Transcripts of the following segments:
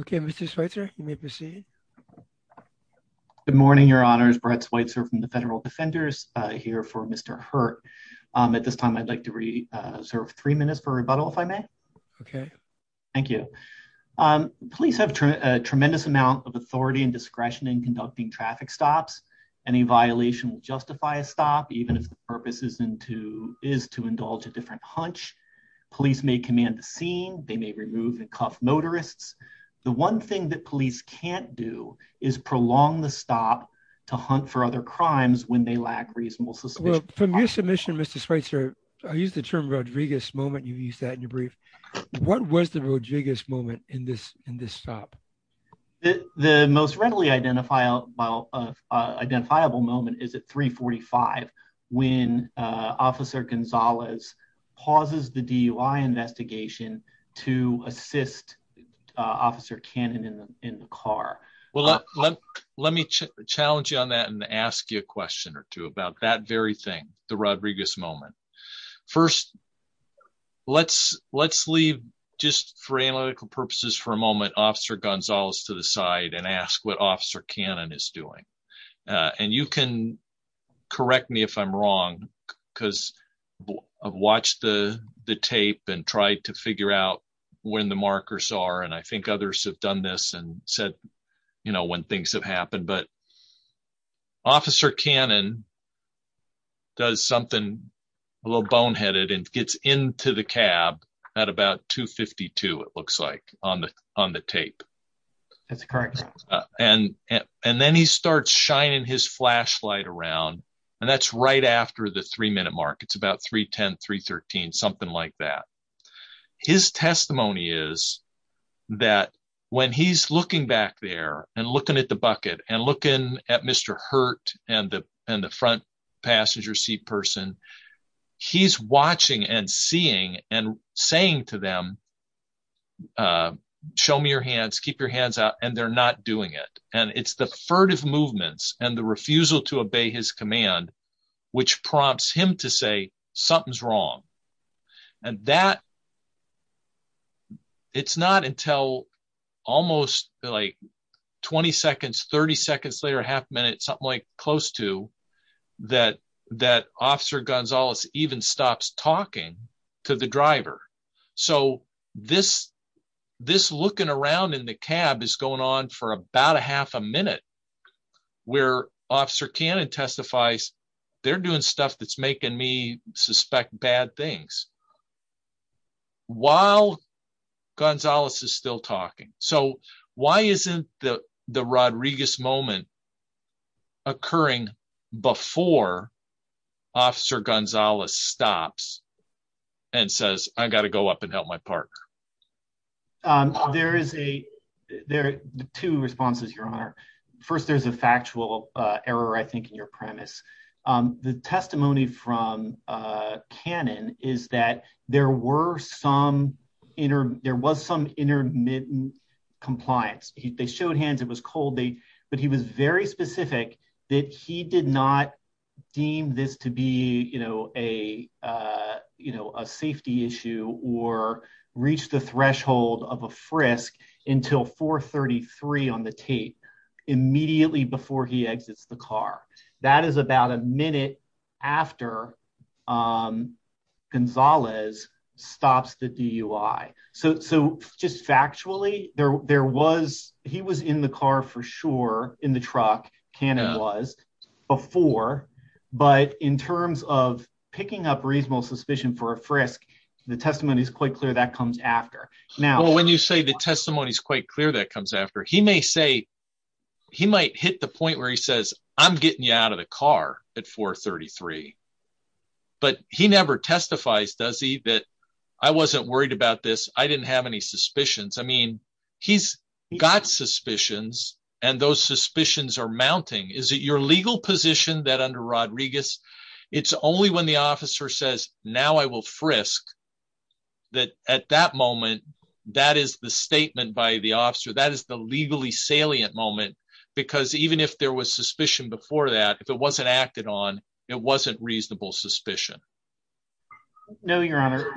Okay, Mr. Schweitzer, you may proceed. Good morning, Your Honors. Brett Schweitzer from the Federal Defenders here for Mr. Hurtt. At this time, I'd like to reserve three minutes for rebuttal, if I may. Okay. Thank you. Police have a tremendous amount of authority and discretion in conducting traffic stops. Any violation will justify a stop, even if the purpose is to indulge a different hunch. Police may command the scene. They may remove and cuff motorists. The one thing that police can't do is prolong the stop to hunt for other crimes when they lack reasonable suspicion. From your submission, Mr. Schweitzer, I use the term Rodriguez moment. You've used that in your brief. What was the Rodriguez moment in this stop? The most readily identifiable moment is at 345, when Officer Gonzalez pauses the DUI investigation to assist Officer Cannon in the car. Let me challenge you on that and ask you a question or two about that very thing, the Rodriguez moment. First, let's leave, just for analytical purposes for a moment, Officer Gonzalez to the side and ask what Officer Cannon is doing. And you can correct me if I'm wrong, because I've watched the tape and tried to figure out when the markers are. And I think others have done this and said, you know, when things have happened. But Officer Cannon does something a little boneheaded and gets into the cab at about 252, it looks like, on the tape. That's correct. And then he starts shining his flashlight around. And that's right after the three minute mark. It's about 310, 313, something like that. His testimony is that when he's looking back there and looking at the bucket and looking at Mr. Hurt and the front passenger seat person, he's watching and seeing and saying to them, show me your hands, keep your hands out, and they're not doing it. And it's the furtive movements and the refusal to obey his command, which prompts him to say something's wrong. And that it's not until almost like 20 seconds, 30 seconds later, half a minute, something like close to, that Officer Gonzalez even stops talking to the driver. So this looking around in the cab is going on for about a half a minute, where Officer Cannon testifies, they're doing stuff that's making me suspect bad things. While Gonzalez is still talking. So why isn't the Rodriguez moment occurring before Officer Gonzalez stops and says, I've got to go up and help my partner. There is a, there are two responses, Your Honor. First, there's a factual error, I think, in your premise. The testimony from Cannon is that there were some, there was some intermittent compliance. They showed hands, it was cold, but he was very specific that he did not deem this to be a safety issue or reach the threshold of a frisk until 433 on the tape, immediately before he exits the car. That is about a minute after Gonzalez stops the DUI. So just factually, there was, he was in the car for sure, in the truck, Cannon was, before. But in terms of picking up reasonable suspicion for a frisk, the testimony is quite clear that comes after. Well, when you say the testimony is quite clear that comes after, he may say, he might hit the point where he says, I'm getting you out of the car at 433. But he never testifies, does he, that I wasn't worried about this, I didn't have any suspicions. I mean, he's got suspicions, and those suspicions are mounting. Is it your legal position that under Rodriguez, it's only when the officer says, now I will frisk, that at that moment, that is the statement by the officer, that is the legally salient moment. Because even if there was suspicion before that, if it wasn't acted on, it wasn't reasonable suspicion. No, Your Honor,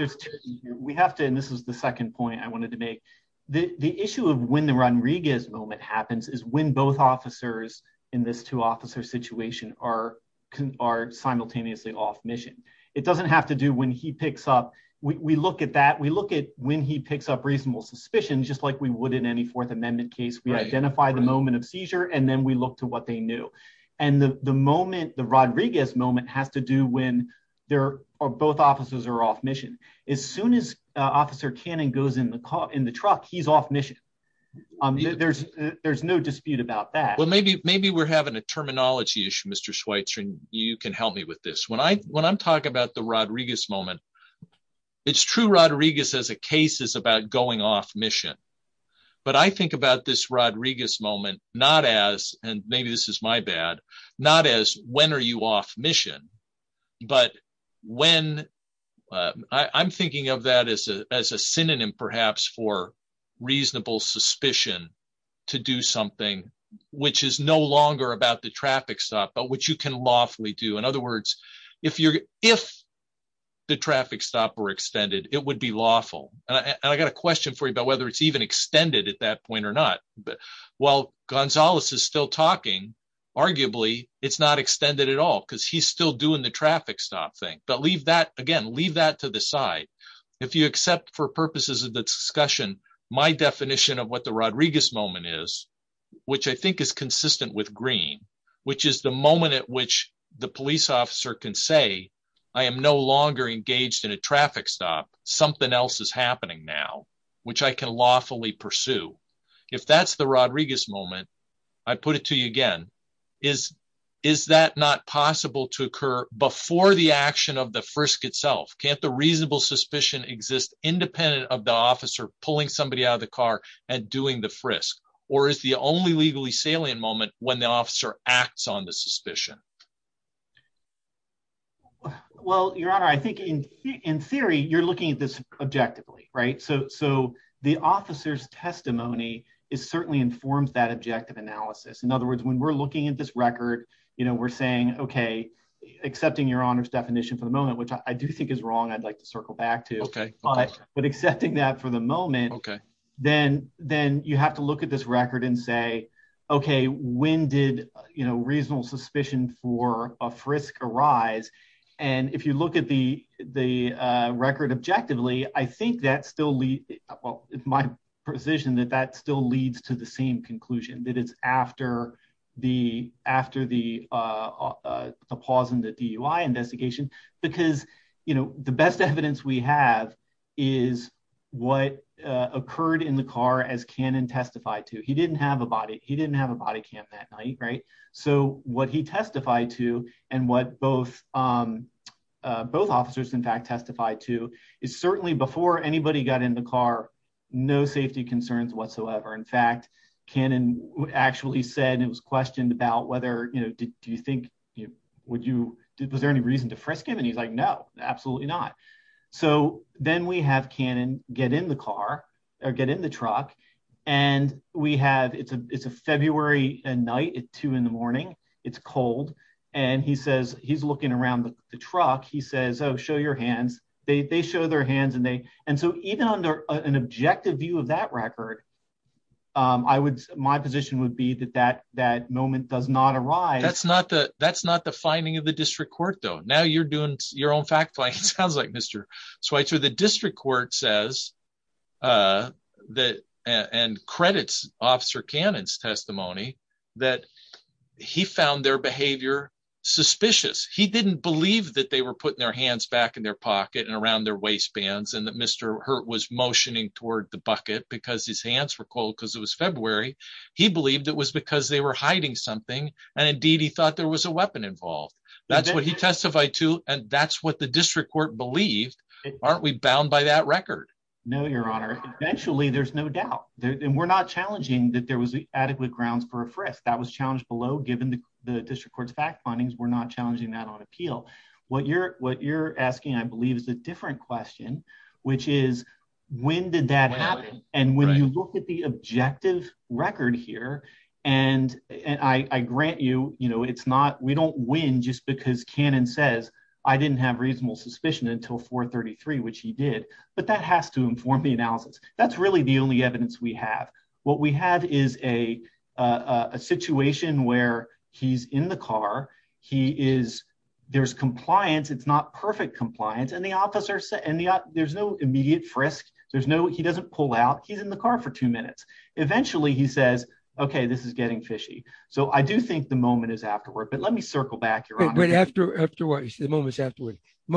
we have to, and this is the second point I wanted to make, the issue of when the Rodriguez moment happens is when both officers in this two officer situation are simultaneously off mission. It doesn't have to do when he picks up, we look at that, we look at when he picks up reasonable suspicion, just like we would in any Fourth Amendment case, we identify the moment of seizure, and then we look to what they knew. And the moment, the Rodriguez moment, has to do when both officers are off mission. As soon as Officer Cannon goes in the car, in the truck, he's off mission. There's no dispute about that. Maybe we're having a terminology issue, Mr. Schweitzer, and you can help me with this. When I'm talking about the Rodriguez moment, it's true Rodriguez as a case is about going off mission. But I think about this Rodriguez moment, not as, and maybe this is my bad, not as when are you off mission, but when, I'm thinking of that as a synonym perhaps for reasonable suspicion to do something which is no longer about the traffic stop, but which you can lawfully do. In other words, if the traffic stop were extended, it would be lawful. And I got a question for you about whether it's even extended at that point or not. While Gonzalez is still talking, arguably, it's not extended at all because he's still doing the traffic stop thing. But leave that, again, leave that to the side. If you accept for purposes of the discussion, my definition of what the Rodriguez moment is, which I think is consistent with green, which is the moment at which the police officer can say, I am no longer engaged in a traffic stop, something else is happening now, which I can lawfully pursue. If that's the Rodriguez moment, I put it to you again, is that not possible to occur before the action of the frisk itself? Can't the reasonable suspicion exist independent of the officer pulling somebody out of the car and doing the frisk? Or is the only legally salient moment when the officer acts on the suspicion? Well, Your Honor, I think in theory, you're looking at this objectively, right? So the officer's testimony, it certainly informs that objective analysis. In other words, when we're looking at this record, we're saying, okay, accepting Your Honor's definition for the moment, then you have to look at this record and say, okay, when did reasonable suspicion for a frisk arise? And if you look at the record objectively, I think that still leads, well, it's my position that that still leads to the same conclusion, that it's after the pause in the DUI investigation, because the best evidence we have is what occurred in the car as Cannon testified to. He didn't have a body cam that night, right? So what he testified to and what both officers, in fact, testified to is certainly before anybody got in the car, no safety concerns whatsoever. In fact, Cannon actually said, it was questioned about whether, you know, do you think, would you, was there any reason to frisk him? And he's like, no, absolutely not. So then we have Cannon get in the car or get in the truck and we have, it's a February night, it's two in the morning, it's cold. And he says, he's looking around the truck. He says, oh, show your hands. They show their hands and they, and so even under an objective view of that record, I would, my position would be that that moment does not arise. That's not the, that's not the finding of the district court though. Now you're doing your own fact-finding. It sounds like Mr. Schweitzer. The district court says that, and credits officer Cannon's testimony, that he found their behavior suspicious. He didn't believe that they were putting their hands back in their pocket and around their waistbands and that Mr. Hurt was motioning toward the bucket because his hands were cold because it was February. He believed it was because they were hiding something. And indeed he thought there was a weapon involved. That's what he testified to. And that's what the district court believed. Aren't we bound by that record? No, your honor. Eventually there's no doubt. And we're not challenging that there was adequately grounds for a frisk. That was challenged below, given the district court's fact findings, we're not challenging that on appeal. What you're, what you're asking, I believe is a different question, which is when did that happen? And when you look at the objective record here, and I grant you, you know, it's not, we don't win just because Cannon says, I didn't have reasonable suspicion until 433, which he did, but that has to inform the analysis. That's really the only evidence we have. What we have is a situation where he's in the car. He is, there's compliance. It's not perfect compliance. And the officer said, and the, there's no immediate frisk. There's no, he doesn't pull out. He's in the car for two minutes. Eventually he says, okay, this is getting fishy. So I do think the moment is afterward, but let me circle back your honor. But after, after what he said, the moment's afterward. The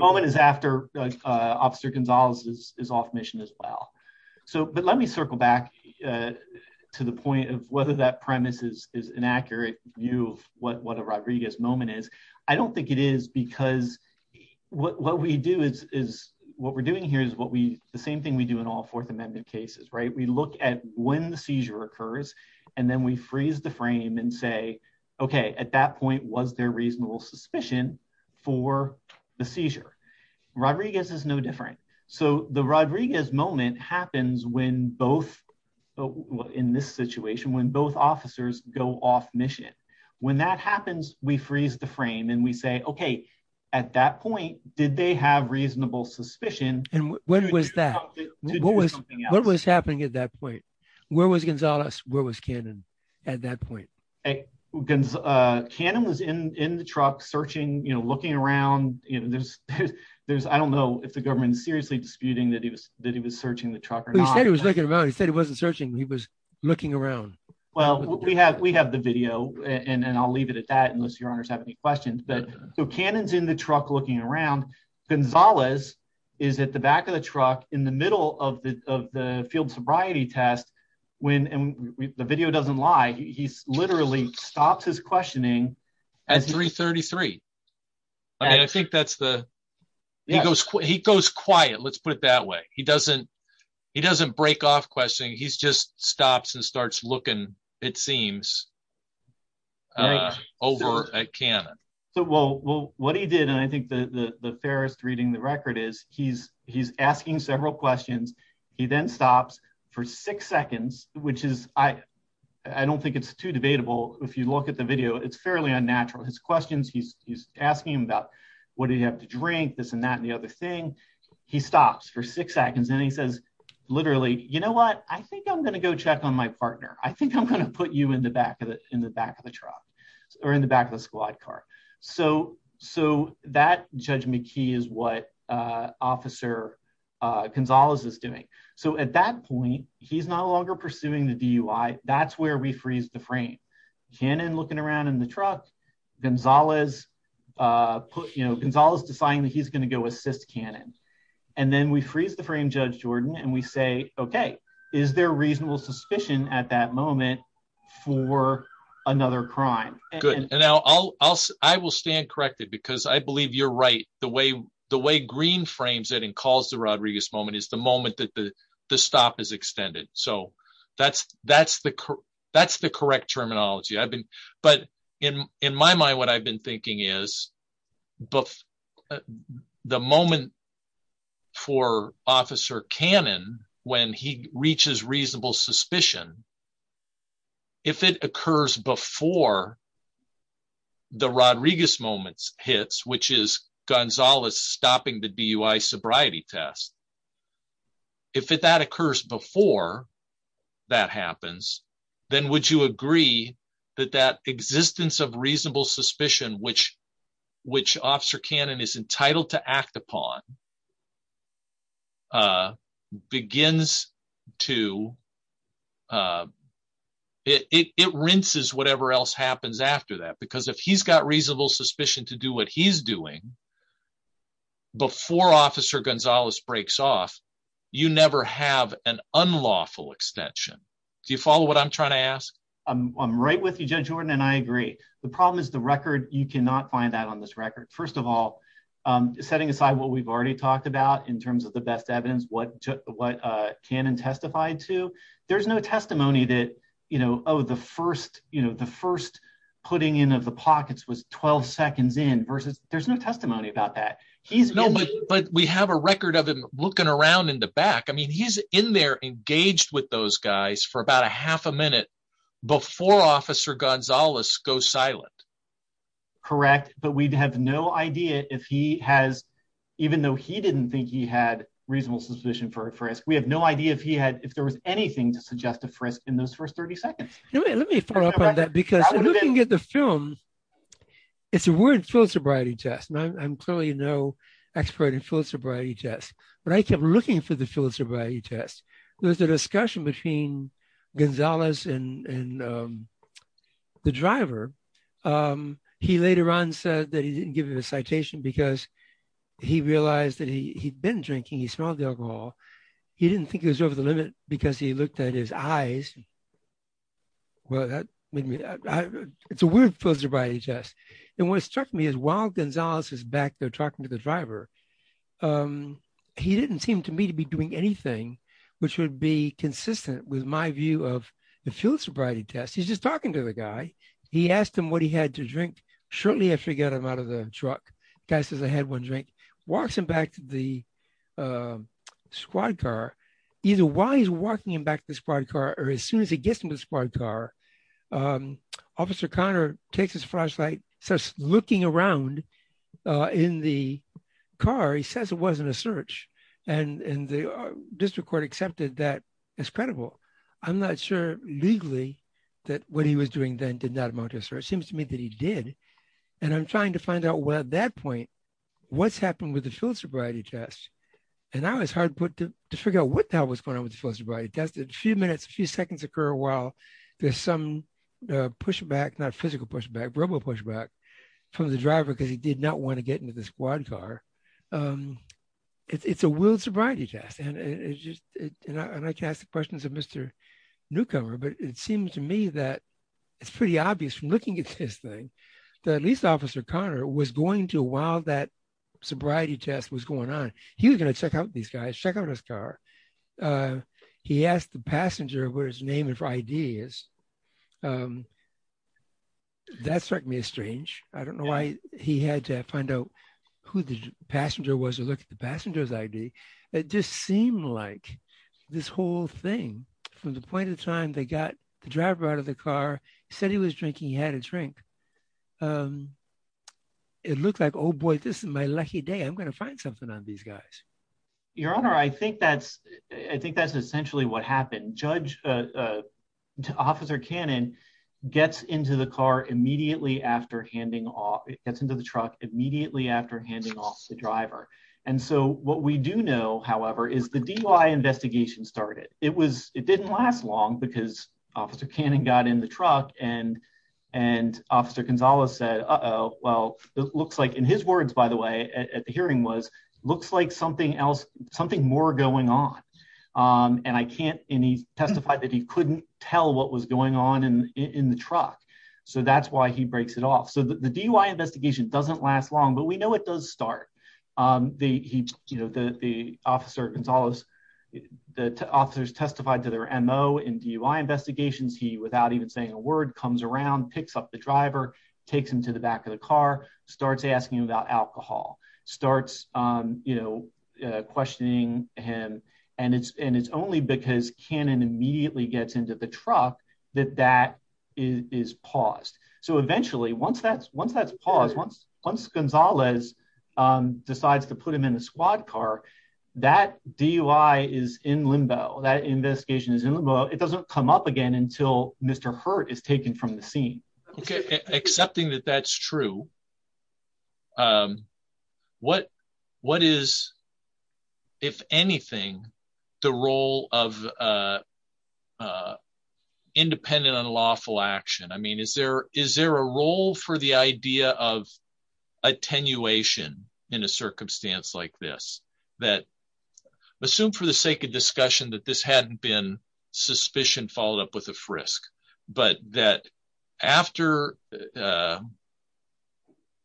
moment is after officer Gonzalez is off mission as well. So, but let me circle back to the point of whether that premise is an accurate view of what a Rodriguez moment is. I don't think it is because what we do is, is what we're doing here is what we, the same thing we do in all fourth amendment cases, right? We look at when the seizure occurs and then we freeze the frame and say, okay, at that point, was there reasonable suspicion for the seizure? Rodriguez is no different. So the Rodriguez moment happens when both in this situation, when both officers go off mission, when that happens, we freeze the frame and we say, okay, at that point, did they have reasonable suspicion? And when was that? What was happening at that point? Where was Gonzalez? Where was Cannon at that point? Cannon was in, in the truck searching, looking around. There's, I don't know if the government is seriously disputing that he was, that he was searching the truck. He said he was looking around. He said he wasn't searching. He was looking around. Well, we have, we have the video and then I'll leave it at that. Unless your honors have any questions, but so Cannon's in the truck looking around. Gonzalez is at the back of the truck in the middle of the, of the field sobriety test. When the video doesn't lie, he literally stops his questioning at 333. I think that's the, he goes, he goes quiet. Let's put it that way. He doesn't, he doesn't break off questioning. He's just stops and starts looking, it seems, over at Cannon. Well, what he did, and I think the fairest reading the record is he's, he's asking several questions. He then stops for six seconds, which is, I, I don't think it's too debatable. If you look at the video, it's fairly unnatural. His questions, he's, he's asking about what do you have to drink, this and that, and the other thing. He stops for six seconds and he says, literally, you know what? I think I'm going to go check on my partner. I think I'm going to put you in the back of the, in the back of the truck or in the back of the squad car. So, so that, Judge McKee is what Officer Gonzalez was doing. So, at that point, he's no longer pursuing the DUI. That's where we freeze the frame. Cannon looking around in the truck. Gonzalez, you know, Gonzalez deciding that he's going to go assist Cannon. And then we freeze the frame, Judge Jordan, and we say, okay, is there reasonable suspicion at that moment for another crime? Good. And I'll, I'll, I'll stand corrected because I believe you're right. The way, the way green frames it and calls the Rodriguez moment is the moment that the, the stop is extended. So that's, that's the, that's the correct terminology. I've been, but in, in my mind, what I've been thinking is, the moment for Officer Cannon, when he reaches reasonable suspicion, if it occurs before the Rodriguez moments hits, which is Gonzalez stopping the DUI sobriety test, if that occurs before that happens, then would you agree that that existence of reasonable suspicion, which, which Officer Cannon is entitled to act upon, begins to, it, it, it rinses whatever else happens after that, because if he's got reasonable suspicion to do what he's doing before Officer Gonzalez breaks off, you never have an unlawful extension. Do you follow what I'm trying to ask? I'm, I'm right with you, Judge Jordan, and I agree. The problem is the record. You cannot find that on this record. First of all, setting aside what we've already talked about in terms of the best evidence, what, what Cannon testified to, there's no testimony that, you know, oh, the first, you know, the first putting in of the pockets was 12 seconds in versus there's no testimony about that. He's no, but we have a record of him looking around in the back. I mean, he's in there engaged with those guys for about a half a minute before Officer Gonzalez goes silent. Correct. But we'd have no idea if he has, even though he didn't think he had reasonable suspicion for a frisk, we have no idea if he had, if there was anything to suggest a frisk in those first 30 seconds. Let me follow up on that because looking at the film, it's a word philosophy test. I'm clearly no expert in philosophy tests, but I kept looking for the philosophy test. There was a discussion between Gonzalez and the driver. He later on said that he didn't give him a citation because he realized that he'd been drinking, he smelled the alcohol. He didn't think it was over the limit because he looked at his eyes. Well, that made me, I, it's a weird philosophy test. And what struck me is while Gonzalez is back there talking to the driver, um, he didn't seem to me to be doing anything, which would be consistent with my view of the philosophy test. He's just talking to the guy. He asked him what he had to drink. Shortly after he got him out of the truck, passes the head one drink, walks him back to the, um, squad car. Either while he's walking him back to the squad car, or as soon as he gets into the looking around, uh, in the car, he says it wasn't a search. And the district court accepted that it's credible. I'm not sure legally that what he was doing then did not amount to a search. It seems to me that he did. And I'm trying to find out what, at that point, what's happened with the philosophy test. And now it's hard to figure out what the hell was going on with the philosophy test. A few minutes, a few seconds occur while there's some pushback, not physical pushback, verbal pushback from the driver because he did not want to get into the squad car. It's a willed sobriety test. And it's just, and I can ask the questions of Mr. Newcomer, but it seems to me that it's pretty obvious from looking at this thing that at least Officer Connor was going to, while that sobriety test was going on, he was going to check out these guys, check out his car. He asked the passenger what his name and ID is. That struck me as strange. I don't know why he had to find out who the passenger was and look at the passenger's ID. It just seemed like this whole thing, from the point of time they got the driver out of the car, he said he was drinking, he had a drink. It looked like, boy, this is my lucky day. I'm going to find something on these guys. Your Honor, I think that's essentially what happened. Judge, Officer Cannon gets into the car immediately after handing off, gets into the truck immediately after handing off the driver. And so what we do know, however, is the DUI investigation started. It didn't last long because Officer Cannon got in the truck and Officer Gonzales said, uh-oh, well, it looks like his words, by the way, at the hearing was, looks like something else, something more going on. And I can't, and he testified that he couldn't tell what was going on in the truck. So that's why he breaks it off. So the DUI investigation doesn't last long, but we know it does start. The Officer Gonzales, the officers testified to their MO in DUI investigations. He, without even saying a word, comes around, picks up the driver, takes him to the back of the car, starts asking about alcohol, starts, um, you know, uh, questioning him. And it's, and it's only because Cannon immediately gets into the truck that that is paused. So eventually, once that's, once that's paused, once, once Gonzales decides to put him in a squad car, that DUI is in limbo, that investigation is in limbo. It doesn't come up again until Mr. Hurt is taken from the scene. Okay. Accepting that that's true. Um, what, what is, if anything, the role of, uh, uh, independent unlawful action? I mean, is there, is there a role for the idea of attenuation in a circumstance like this? That, assume for the sake of discussion that this is, uh,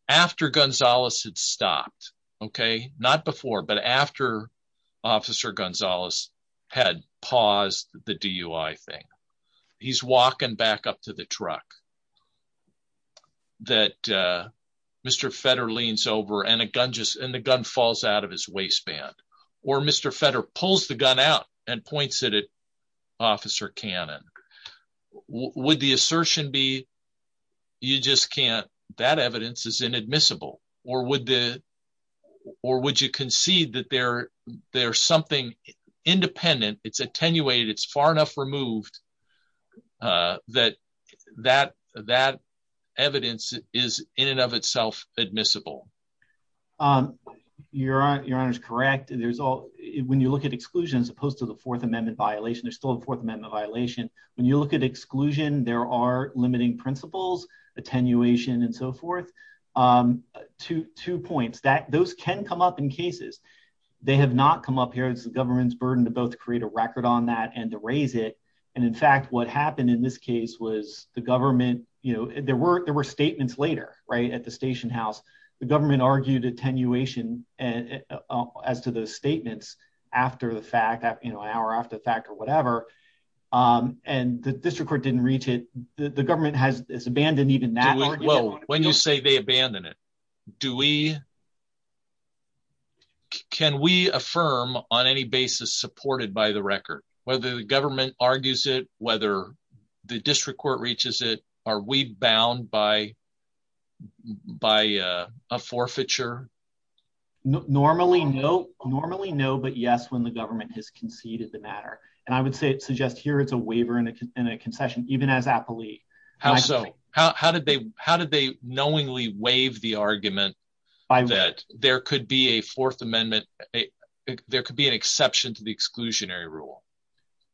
after Gonzales had stopped. Okay. Not before, but after Officer Gonzales had paused the DUI thing. He's walking back up to the truck. That, uh, Mr. Fetter leans over and a gun just, and the gun falls out of his waistband. Or Mr. Fetter pulls the gun out and points it at Officer Cannon. Would the assertion be you just can't, that evidence is inadmissible, or would the, or would you conceive that there, there's something independent, it's attenuated, it's far enough removed, uh, that, that, that evidence is in and of itself admissible? Um, your honor, your honor is correct. There's all, when you look at exclusion as opposed to the fourth amendment violation, there's still a fourth amendment violation. When you look at exclusion, there are limiting principles, attenuation and so forth. Um, two, two points that those can come up in cases. They have not come up here. It's the government's burden to both create a record on that and to raise it. And in fact, what happened in this case was the government, you know, there were, there were statements later, right? At the station house, the government argued attenuation and as to those statements after the fact, you know, an hour after the fact or whatever, um, and the district court didn't reach it. The government has, has abandoned even that. When you say they abandon it, do we, can we affirm on any basis supported by the record, whether the government argues it, whether the district court reaches it, are we bound by, by a forfeiture? Normally no, normally no, but yes, when the government has conceded the matter. And I would say to just, here is a waiver and a concession, even as appellee. How did they, how did they knowingly waive the argument that there could be a fourth amendment, there could be an exception to the exclusionary rule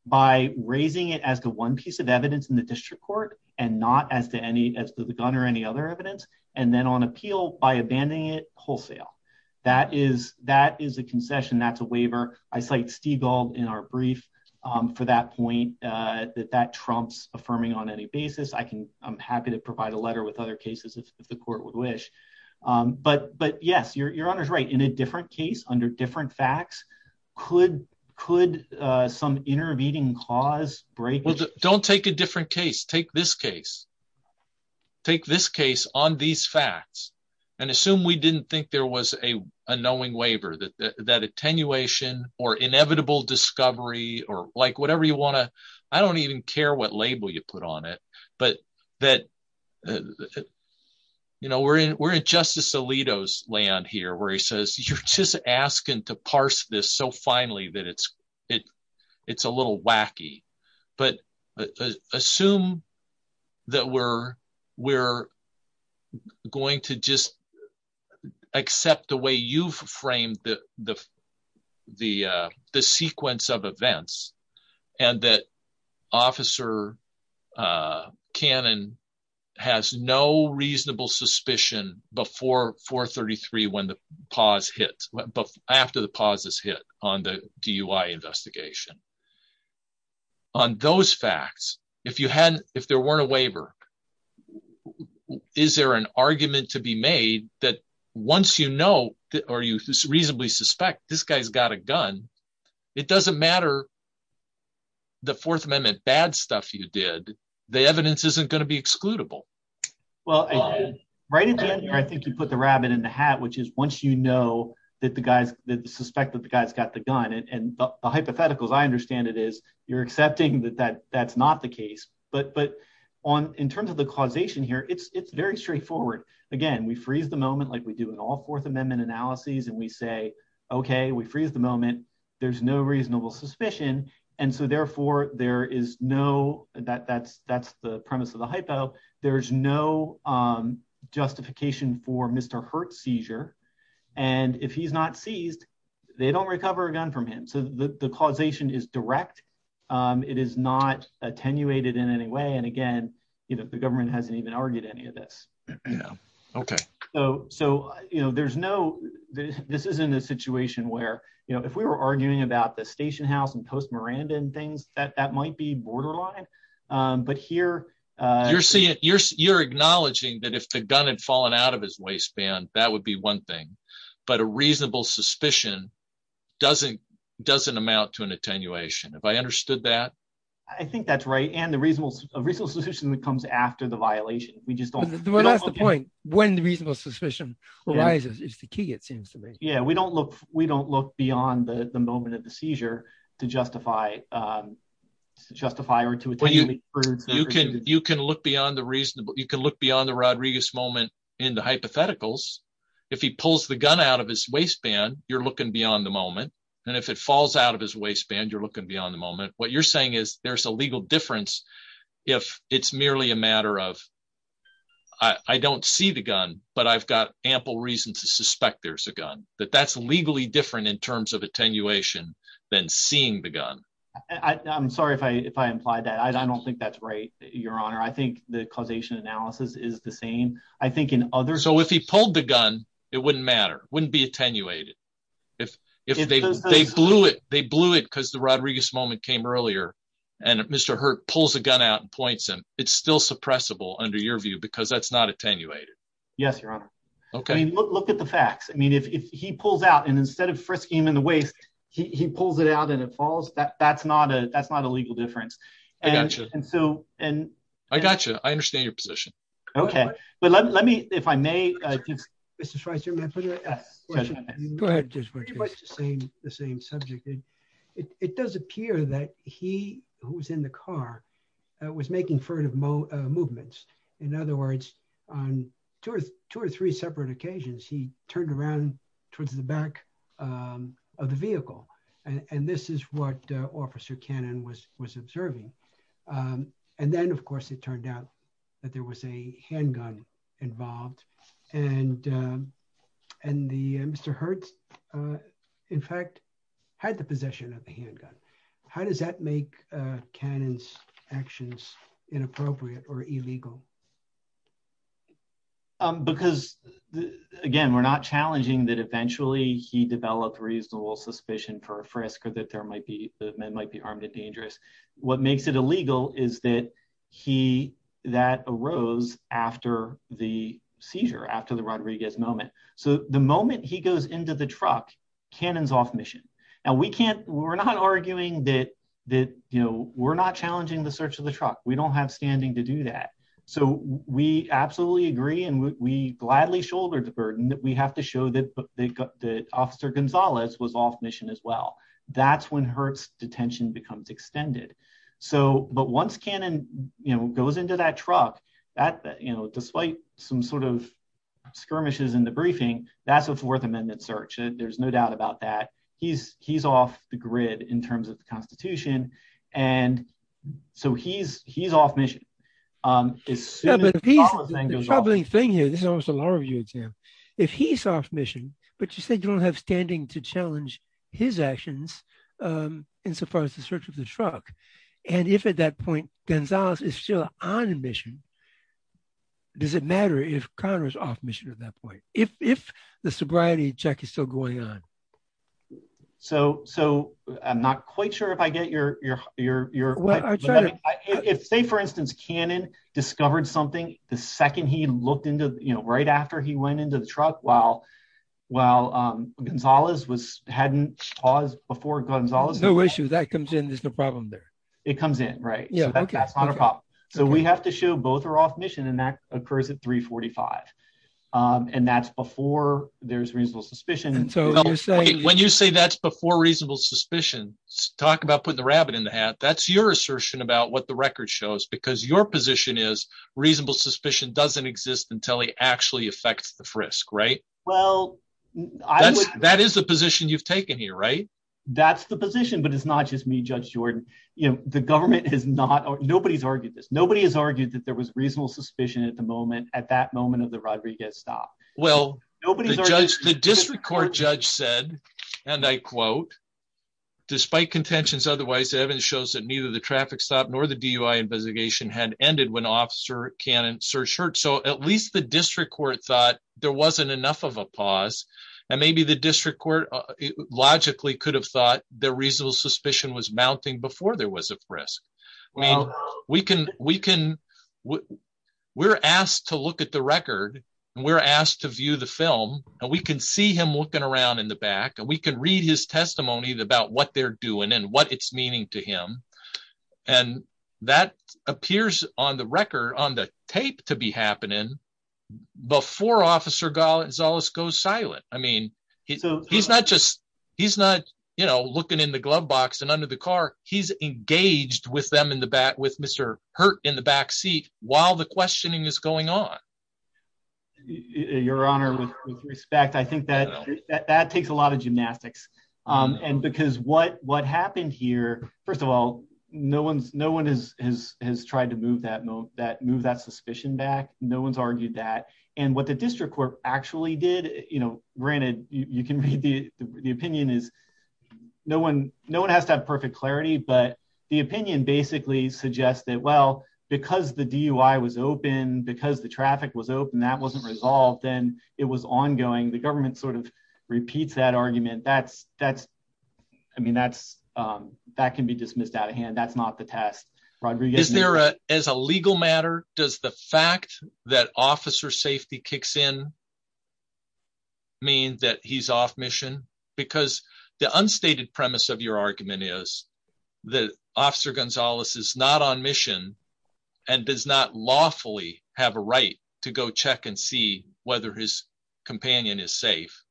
by raising it as the one piece of evidence in the district court and not as to any, as to the gun or any other evidence. And then on appeal by abandoning it wholesale, that is, that is a concession. That's a waiver. I cite Stiegel in our brief, um, for that point, uh, that, that Trump's affirming on any basis. I can, I'm happy to provide a letter with other cases if the court would wish. Um, but, but yes, you're, your honor's right in a different case under different facts. Could, could, uh, some intervening clause break. Don't take a different case. Take this case, take this case on these facts and assume we didn't think there was a, a knowing waiver that, that, that attenuation or inevitable discovery or like whatever you want to, I don't even care what label you put on it, but that, uh, you know, we're in, we're in justice land here where he says, you're just asking to parse this. So finally that it's, it, it's a little wacky, but assume that we're, we're going to just accept the way you've framed the, the, uh, the sequence of events and that officer, uh, Cannon has no reasonable suspicion before 433 when the pause hits, but after the pause is hit on the DUI investigation on those facts, if you hadn't, if there weren't a waiver, w is there an argument to be made that once you know, or you reasonably suspect this guy's got a gun, it doesn't matter. The fourth amendment, bad stuff you did. The evidence isn't going to be excludable. Well, right. I think you put the rabbit in the hat, which is once you know that the guys that the suspect that the guy's got the gun and the hypotheticals, you're accepting that that that's not the case, but, but on, in terms of the causation here, it's, it's very straightforward. Again, we freeze the moment, like we do in all fourth amendment analyses and we say, okay, we freeze the moment. There's no reasonable suspicion. And so therefore there is no, that that's, that's the premise of the hypo. There's no, um, justification for Mr. Hurt seizure. And if he's not seized, they don't recover a gun from the, the causation is direct. Um, it is not attenuated in any way. And again, you know, the government hasn't even argued any of this, you know? Okay. So, so, you know, there's no, this, this isn't a situation where, you know, if we were arguing about the station house and post Miranda and things that, that might be borderline. Um, but here, uh, you're seeing, you're, you're acknowledging that if the gun had fallen out of his waistband, that would be one thing. But a reasonable suspicion doesn't, doesn't amount to an attenuation. Have I understood that? I think that's right. And the reasonable, a reasonable suspicion that comes after the violation, we just don't, when the reasonable suspicion is the key, it seems to me. Yeah. We don't look, we don't look beyond the moment of the seizure to justify, um, justify or to, you can, you can look beyond the reasonable, you can look beyond the Rodriguez moment in the hypotheticals. If he pulls the gun out of his waistband, you're looking beyond the moment. And if it falls out of his waistband, you're looking beyond the moment. What you're saying is there's a legal difference. If it's merely a matter of, I don't see the gun, but I've got ample reason to suspect there's a gun that that's legally different in terms of attenuation than seeing the gun. I I'm sorry if I, if I implied that I don't think that's right. Your honor, I think the causation analysis is the same. I think in other, so if he pulled the gun, it wouldn't matter. Wouldn't be attenuated. If they blew it, they blew it because the Rodriguez moment came earlier and Mr. Hurt pulls the gun out and points him. It's still suppressible under your view because that's not attenuated. Yes, your honor. Okay. Look at the facts. I mean, if he pulls out and instead of frisking him in the waist, he pulls it out and it falls. That's not a, I gotcha. And so, and I gotcha. I understand your position. Okay. But let me, if I may, this is the same subject. It does appear that he who's in the car was making furtive movements. In other words, on two or three separate occasions, he turned around towards the back of the vehicle. And this is what officer Cannon was, was observing. And then of course, it turned out that there was a handgun involved and, and the Mr. Hurt in fact, had the possession of the handgun. How does that make Cannon's actions inappropriate or illegal? Because again, we're not challenging that eventually he developed reasonable suspicion for a frisk or that there might be, that might be harmed and dangerous. What makes it illegal is that he, that arose after the seizure, after the Rodriguez moment. So the moment he goes into the truck, Cannon's off mission. And we can't, we're not arguing that, that, you know, we're not to do that. So we absolutely agree. And we gladly shouldered the burden that we have to show that the officer Gonzalez was off mission as well. That's when Hurt's detention becomes extended. So, but once Cannon, you know, goes into that truck, that's, you know, despite some sort of skirmishes in the briefing, that's a fourth amendment search. There's no doubt about that. He's, he's off the grid in terms of the constitution. And so he's, he's off mission. If he's off mission, but you said you don't have standing to challenge his actions in so far as the search of the truck. And if at that point, Gonzalez is still on mission, does it matter if Connor's off mission at that point? If, if the sobriety check is still going on. So, so I'm not quite sure if I get your, your, your, your, if say, for instance, Cannon discovered something the second he looked into, you know, right after he went into the truck while, while Gonzalez was hadn't paused before Gonzalez. No issues. That comes in. There's no problem there. It comes in. Right. Yeah. That's not a problem. So we have to show both are off mission and that occurs at three 45. And that's before there's reasonable suspicion. And so when you say that's before reasonable suspicion, talk about putting the rabbit in the hat. That's your assertion about what the record shows, because your position is reasonable suspicion doesn't exist until he actually affects the frisk, right? Well, that is the position you've taken here, right? That's the position, but it's not just me, judge Jordan. You know, the government has not, nobody's argued this. Nobody has argued that there was reasonable suspicion at the moment, at that moment of the robbery gets stopped. Well, the district court judge said, and I quote, despite contentions, otherwise evidence shows that neither the traffic stop nor the DUI investigation had ended when officer Cannon search hurt. So at least the district court thought there wasn't enough of a pause and maybe the district court logically could have thought the reasonable suspicion was mounting before there was a frisk. I mean, we can, we can, we're asked to look at the record and we're asked to view the film and we can see him looking around in the back and we can read his testimonies about what they're doing and what it's meaning to him. And that appears on the record on the tape to be happening before officer Gonzalez goes silent. I under the car, he's engaged with them in the back with Mr. Hurt in the back seat while the questioning is going on. Your honor, with respect, I think that that takes a lot of gymnastics. And because what, what happened here, first of all, no one, no one has, has, has tried to move that move that move that suspicion back. No one's argued that. And what the district court actually did, you know, granted you can read the opinion is no one, no one has that perfect clarity, but the opinion basically suggests that, well, because the DUI was open because the traffic was open, that wasn't resolved. And it was ongoing. The government sort of repeats that argument. That's, that's, I mean, that's that can be dismissed out of hand. That's not the past. Is there a, as a legal matter, does the fact that officer safety kicks in mean that he's off mission? Because the unstated premise of your argument is the officer Gonzalez is not on mission and does not lawfully have a right to go check and see whether his companion is safe,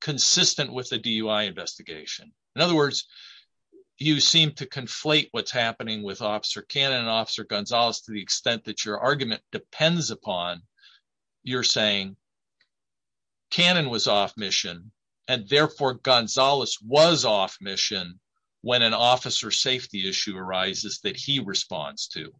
consistent with the DUI investigation. In other words, you seem to conflate what's happening with officer Cannon and officer Gonzalez, to the extent that your argument depends upon you're saying Cannon was off mission. And therefore Gonzalez was off mission when an officer safety issue arises that he responds to.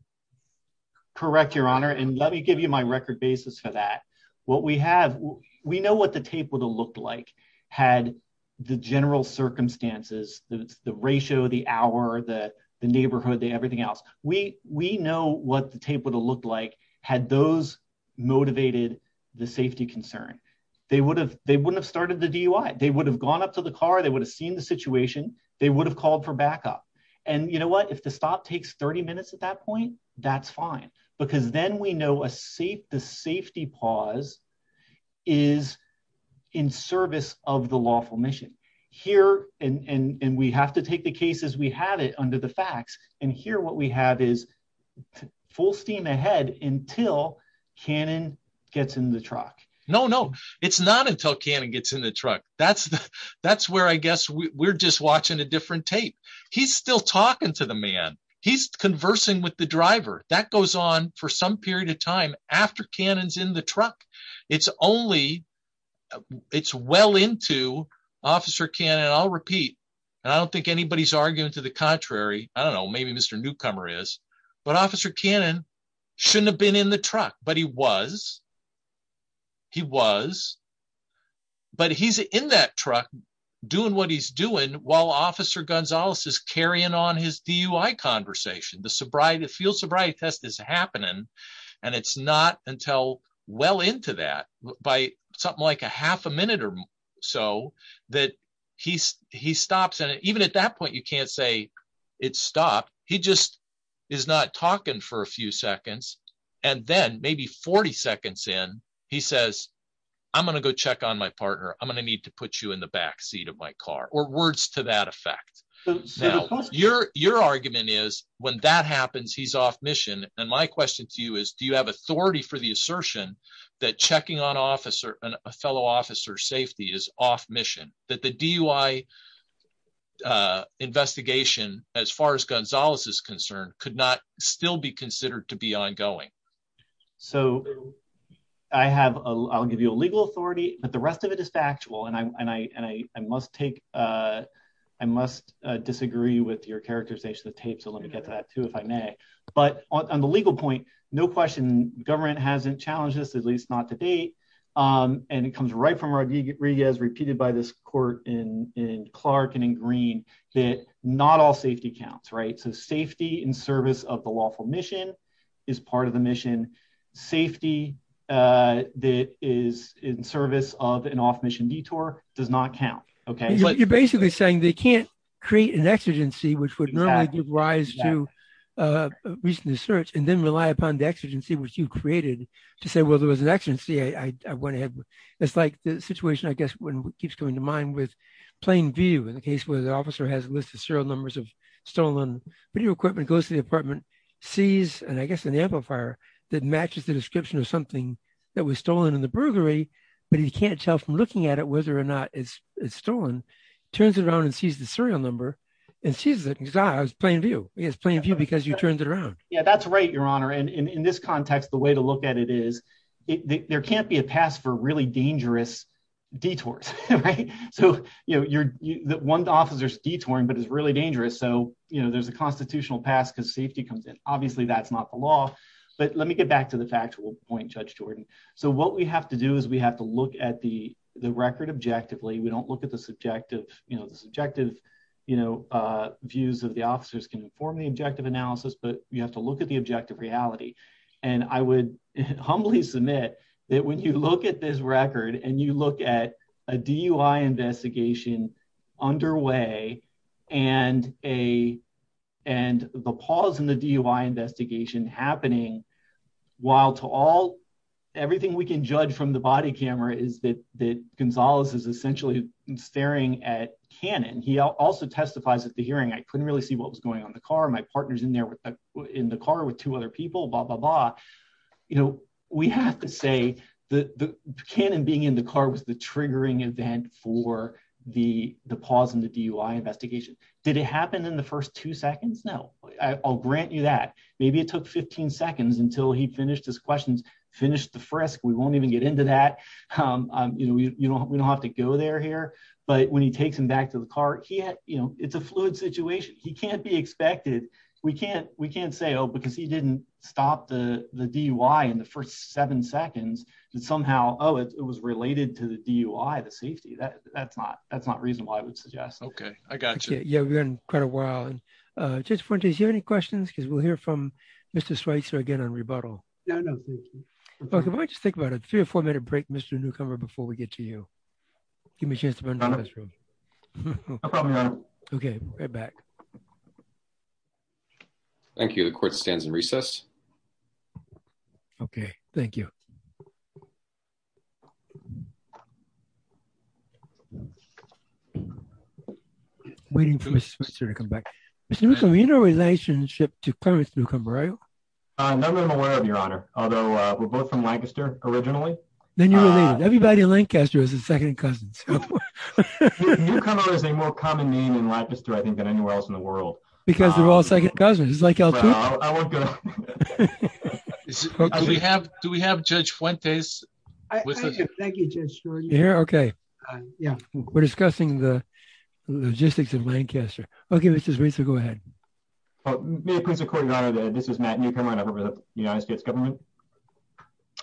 Correct your honor. And let me give you my record basis for that. What we have, we know what the would have looked like had the general circumstances, the ratio, the hour, the neighborhood, the everything else, we, we know what the tape would have looked like had those motivated the safety concern. They would have, they wouldn't have started the DUI. They would have gone up to the car. They would have seen the situation. They would have called for backup. And you know what, if the thought takes 30 minutes at that point, that's fine. Because then we know a safe, the safety pause is in service of the lawful mission here. And we have to take the case as we had it under the facts. And here, what we have is full steam ahead until Cannon gets in the truck. No, no, it's not until Cannon gets in the truck. That's, that's where I guess we're just watching a different tape. He's still talking to the man. He's conversing with the driver that goes on for some period of time after Cannon's in the truck. It's only, it's well into Officer Cannon. I'll repeat. I don't think anybody's arguing to the contrary. I don't know. Maybe Mr. Newcomer is. But Officer Cannon shouldn't have been in the truck, but he was. He was. But he's in that truck doing what he's doing while Officer Gonzalez is carrying on his DUI conversation. The sobriety, fuel sobriety test is happening. And it's not until well into that, by something like a half a minute or so, that he's, he stops. And even at that point, you can't say it's stopped. He just is not talking for a few seconds. And then maybe 40 seconds in, he says, I'm going to go check on my partner. I'm going to need to put you in the back seat of my car. Or words to that effect. Your, your argument is, when that happens, he's off mission. And my question to you is, do you have authority for the assertion that checking on officer, a fellow officer's safety is off mission? That the DUI investigation, as far as Gonzalez is concerned, could not still be considered to be ongoing. So I have, I'll give you a legal authority, but the rest of it is factual. And I must take, I must disagree with your characterization of tape. So let me get to that too, if I may. But on the legal point, no question, government hasn't challenged this, at least not to date. And it comes right from Rodriguez, repeated by this court in Clark and in Green, that not all safety counts, right? So safety in service of the lawful mission is part of the mission. Safety that is in service of an off-mission detour does not count. Okay. You're basically saying they can't create an exigency, which would normally give rise to a recent assertion and then rely upon the exigency, which you created to say, well, there was an exigency. I went ahead. It's like the situation, I guess, when it keeps coming to mind with plain view in the case where the officer has listed serial numbers of video equipment, goes to the apartment, sees, and I guess an amplifier that matches the description of something that was stolen in the burglary, but he can't tell from looking at it, whether or not it's stolen, turns it around and sees the serial number and sees it because, ah, it's plain view. It's plain view because you turned it around. Yeah, that's right, Your Honor. And in this context, the way to look at it is, there can't be a pass for really dangerous detours, right? You know, one officer's detouring, but it's really dangerous. So, you know, there's a constitutional pass because safety comes in. Obviously, that's not the law. But let me get back to the factual point, Judge Jordan. So what we have to do is we have to look at the record objectively. We don't look at the subjective, you know, the subjective, you know, views of the officers can inform the objective analysis, but you have to look at the objective reality. And I would humbly submit that when you look at this record and you look at DUI investigation underway and the pause in the DUI investigation happening, while to all, everything we can judge from the body camera is that Gonzalez is essentially staring at Cannon. He also testifies at the hearing, I couldn't really see what was going on in the car. My partner's in there in the car with two other people, blah, blah, blah. You know, we have to say that Cannon being in the car was the triggering event for the pause in the DUI investigation. Did it happen in the first two seconds? No. I'll grant you that. Maybe it took 15 seconds until he finished his questions, finished the frisk. We won't even get into that. You know, we don't have to go there here. But when he takes him back to the car, he had, you know, it's a fluid situation. He can't be expected. We can't say, oh, because he didn't stop the DUI in the first seven seconds, that somehow, oh, it was related to the DUI, the safety. That's not reason why I would suggest it. Okay. I got you. Yeah, we've got quite a while. Judge Fuentes, do you have any questions? Because we'll hear from Mr. Schweitzer again on rebuttal. No, no, thank you. Okay, why don't you take about a three or four minute break, Mr. Newcomer, before we get to you. Give me a chance to run to the restroom. No problem, Your Honor. Okay, right back. Thank you. The court stands in recess. Okay, thank you. Waiting for Mr. Schweitzer to come back. Mr. Newsome, are you in a relationship to Clarence Newcomer, are you? No, I'm not aware of, Your Honor. Although, we're both from Lancaster, originally. Then you were right. Everybody in Lancaster is his second cousins. Newcomer is a more common name in Lancaster, I think, than anywhere else in the world. Because we're all second cousins. Do we have Judge Fuentes? Thank you, Judge Schweritzer. You're here? Okay. Yeah, we're discussing the logistics of Lancaster. Okay, Mr. Schweitzer, go ahead. May it please the court, Your Honor, that this is Matt Newcomer, with the United States government? Can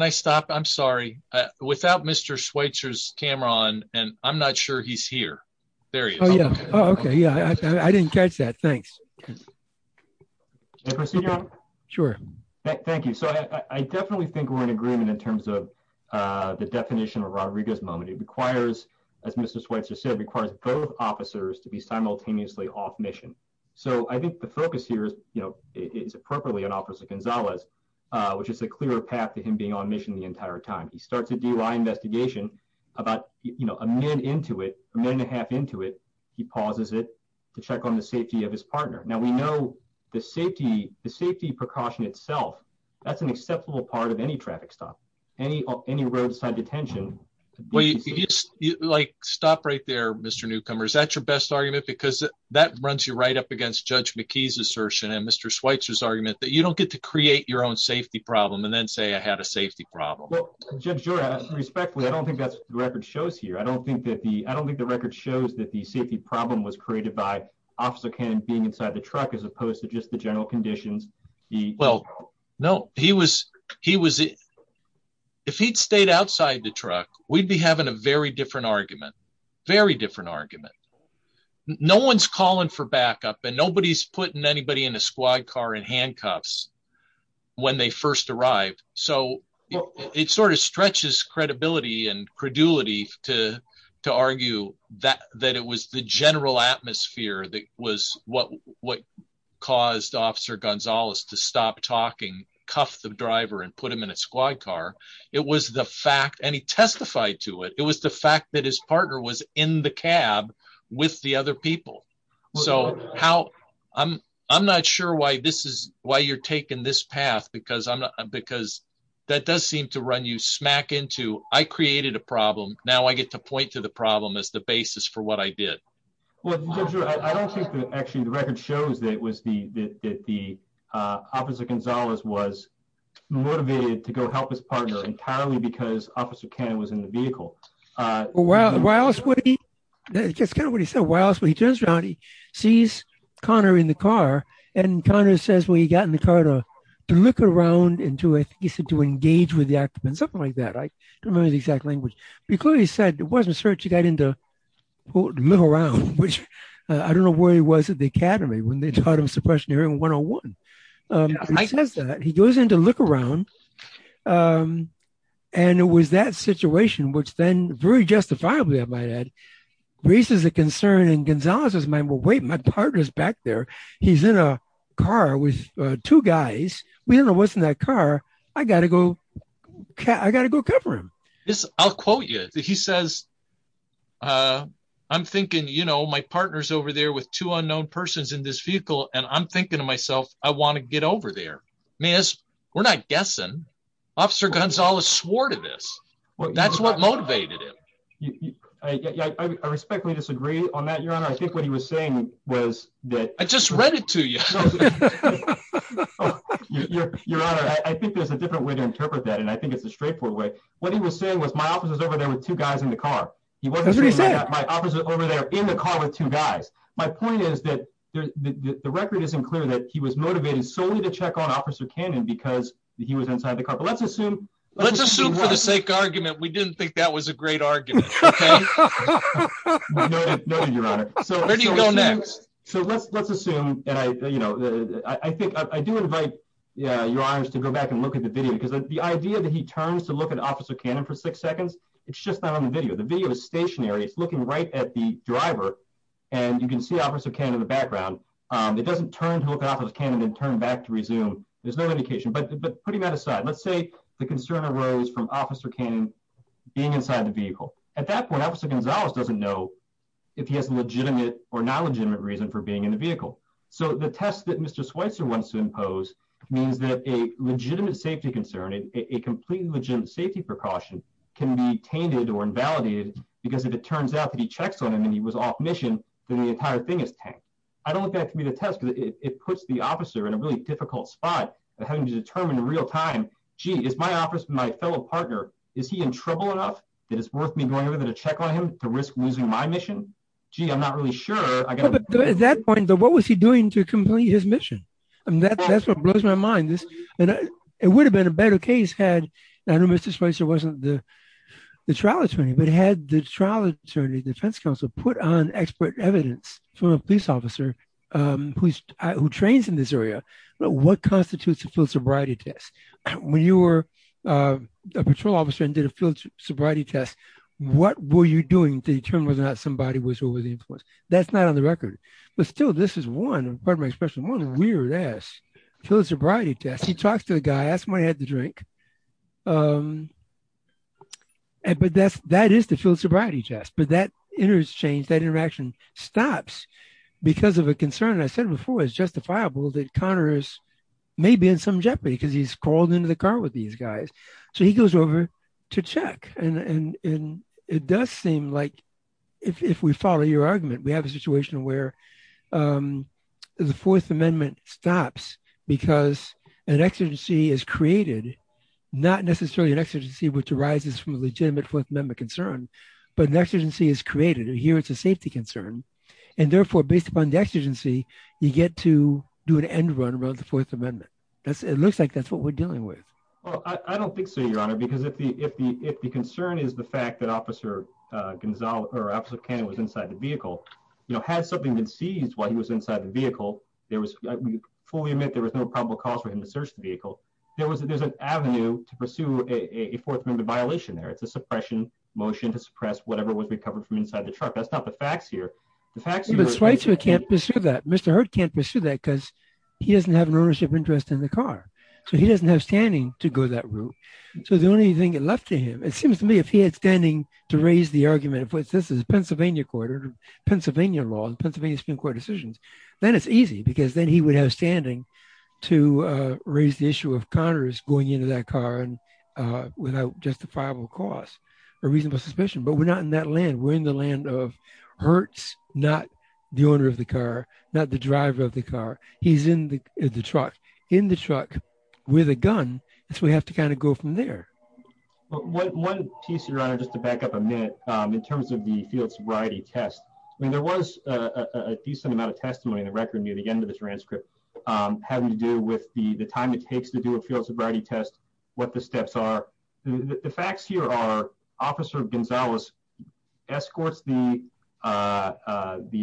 I stop? I'm sorry. Without Mr. Schweitzer's camera on, and I'm not sure he's here. There he is. Oh, yeah. Oh, okay. Yeah, I didn't catch that. Thanks. May I proceed, Your Honor? Sure. Thank you. So, I definitely think we're in agreement in terms of the definition of Rodriguez moment. It requires, as Mr. Schweitzer said, it requires both officers to be simultaneously off mission. So, I think the focus here is appropriately on Officer Gonzalez, which is a clearer path to him being on mission the entire time. He starts a DUI investigation about a minute into it, a minute and a half into it, he pauses it to check on the safety of his partner. Now, we know the safety precaution itself, that's an acceptable part of any traffic stop, any roadside detention. Wait, like stop right there, Mr. Newcomer. Is that your best argument? Because that runs you right up against Judge McKee's assertion and Mr. Schweitzer's argument that you don't get to create your own safety problem and then say I had a safety problem. Well, Judge, you're asking respectfully. I don't think that's the record shows here. I don't think that the, I don't think the record shows that the safety problem was created by Officer Cannon being on duty. If he'd stayed outside the truck, we'd be having a very different argument, very different argument. No one's calling for backup and nobody's putting anybody in a squad car in handcuffs when they first arrived. So, it sort of stretches credibility and credulity to argue that it was the general atmosphere that was what caused Officer Gonzalez to stop talking, cuff the driver and put him in a squad car. It was the fact, and he testified to it, it was the fact that his partner was in the cab with the other people. So, how, I'm not sure why you're taking this path because that does seem to run you smack into, I created a problem, now I get to point to the problem as the basis for what I did. Well, Judge, I don't think that the record shows that Officer Gonzalez was motivated to go help his partner entirely because Officer Cannon was in the vehicle. Well, why else would he, it's kind of what he said, why else would he, he turns around, he sees Connor in the car and Connor says, well, he got in the car to look around and to engage with the occupants, something like that. I don't remember the exact language, but he clearly said, it wasn't search, he got in to look around, which I don't know where he was at the academy when they taught him suppression area 101. He goes in to look around and it was that situation, which then very justifiably, I might add, raises a concern in Gonzalez's mind, well, wait, my partner's back there, he's in a car with two guys, we don't know what's in that car, I gotta go cover him. I'll quote you, he says, I'm thinking, you know, my partner's over there with two unknown persons in this vehicle and I'm thinking to myself, I want to get over there. May I ask, we're not guessing, Officer Gonzalez swore to this, that's what motivated him. I respectfully disagree on that, Your Honor, I think what he was saying was that- I just read it to you. Your Honor, I think there's a different way to interpret that and I think it's a straightforward way. What he was saying was, my officer's over there with two guys in the car. That's what he said. My officer's over there in the car with two guys. My point is that the record isn't clear that he was motivated solely to check on Officer Cannon because he was inside the car, but let's assume- Let's assume, for the sake of argument, we didn't think that was a great argument, okay? No, Your Honor. Where do you go next? So let's assume that, you know, I do invite, yeah, Your Honor, to go back and look at the video because the idea that he turns to look at Officer Cannon for six seconds, it's just not on the video. The video is stationary. It's looking right at the driver and you can see Officer Cannon in the background. It doesn't turn to look at Officer Cannon and turn back to resume. There's no indication, but putting that aside, let's say the concern arose from Officer Cannon being inside the vehicle. At that point, Officer Gonzalez doesn't know if he has a legitimate or non-legitimate reason for being in the vehicle. So the test that Mr. Schweitzer wants to impose means that a legitimate safety concern, a completely legitimate safety precaution, can be tainted or invalidated because if it turns out that he checks on him and he was off mission, then the entire thing is tainted. I don't think that can be the test because it puts the officer in a really difficult spot of having to determine in real time, gee, is my office, my fellow partner, is he in trouble enough that it's worth me going over there to check on him to risk losing my mission? Gee, I'm not really sure. At that point, what was he doing to complete his mission? That's what blows my mind. It would have been a better case had, I don't know if Mr. Schweitzer wasn't the trial attorney, but had the trial attorney, the defense counsel, put on expert evidence from a police officer who trains in this area, what constitutes a full sobriety test? When you were a patrol officer and did a full sobriety test, what were you doing to determine whether or not somebody was really the influence? That's not on the record. But still, this is one, weird ass full sobriety test. He talks to the guy, ask him why he had the drink. That is the full sobriety test, but that interchange, that interaction stops because of a concern. I said before, it's justifiable that Connor is maybe in some jeopardy because he's crawled into the car with these guys. He goes over to check. It does seem like, if we follow your argument, we have a situation where the Fourth Amendment stops because an exigency is created, not necessarily an exigency which arises from a legitimate Fourth Amendment concern, but an exigency is created. Here, it's a safety concern. Therefore, based upon the exigency, you get to do an end run around the Fourth Amendment. It looks like that's what we're dealing with. I don't think so, Your Honor, because if the concern is the fact that Officer Cannon was inside the vehicle, had something been seized while he was inside the vehicle, there was, before we admit there was no probable cause for him to search the vehicle, there was an avenue to pursue a Fourth Amendment violation there. It's a suppression motion to suppress whatever was recovered from inside the truck. That's not the facts here. But Schweitzer can't pursue that. Mr. Hurd can't pursue that because he doesn't have an ownership interest in the car. He doesn't have standing to go that route. The only thing left to him, it seems to me, if he had standing to raise the argument that this is Pennsylvania law and Pennsylvania Supreme Court decisions, then it's easy because then he would have standing to raise the issue of Connors going into that car without justifiable cause, a reasonable suspicion. But we're not in that land. We're in the land of Hurd's, not the owner of the car, not the driver of the car. He's in the truck, in the truck with a gun, so we have to kind of go from there. But one piece here, just to back up a minute, in terms of the field sobriety test, I mean, there was a decent amount of testimony in the record near the end of the transcript having to do with the time it takes to do a field sobriety test, what the steps are. The facts here are Officer Gonzalez escorts the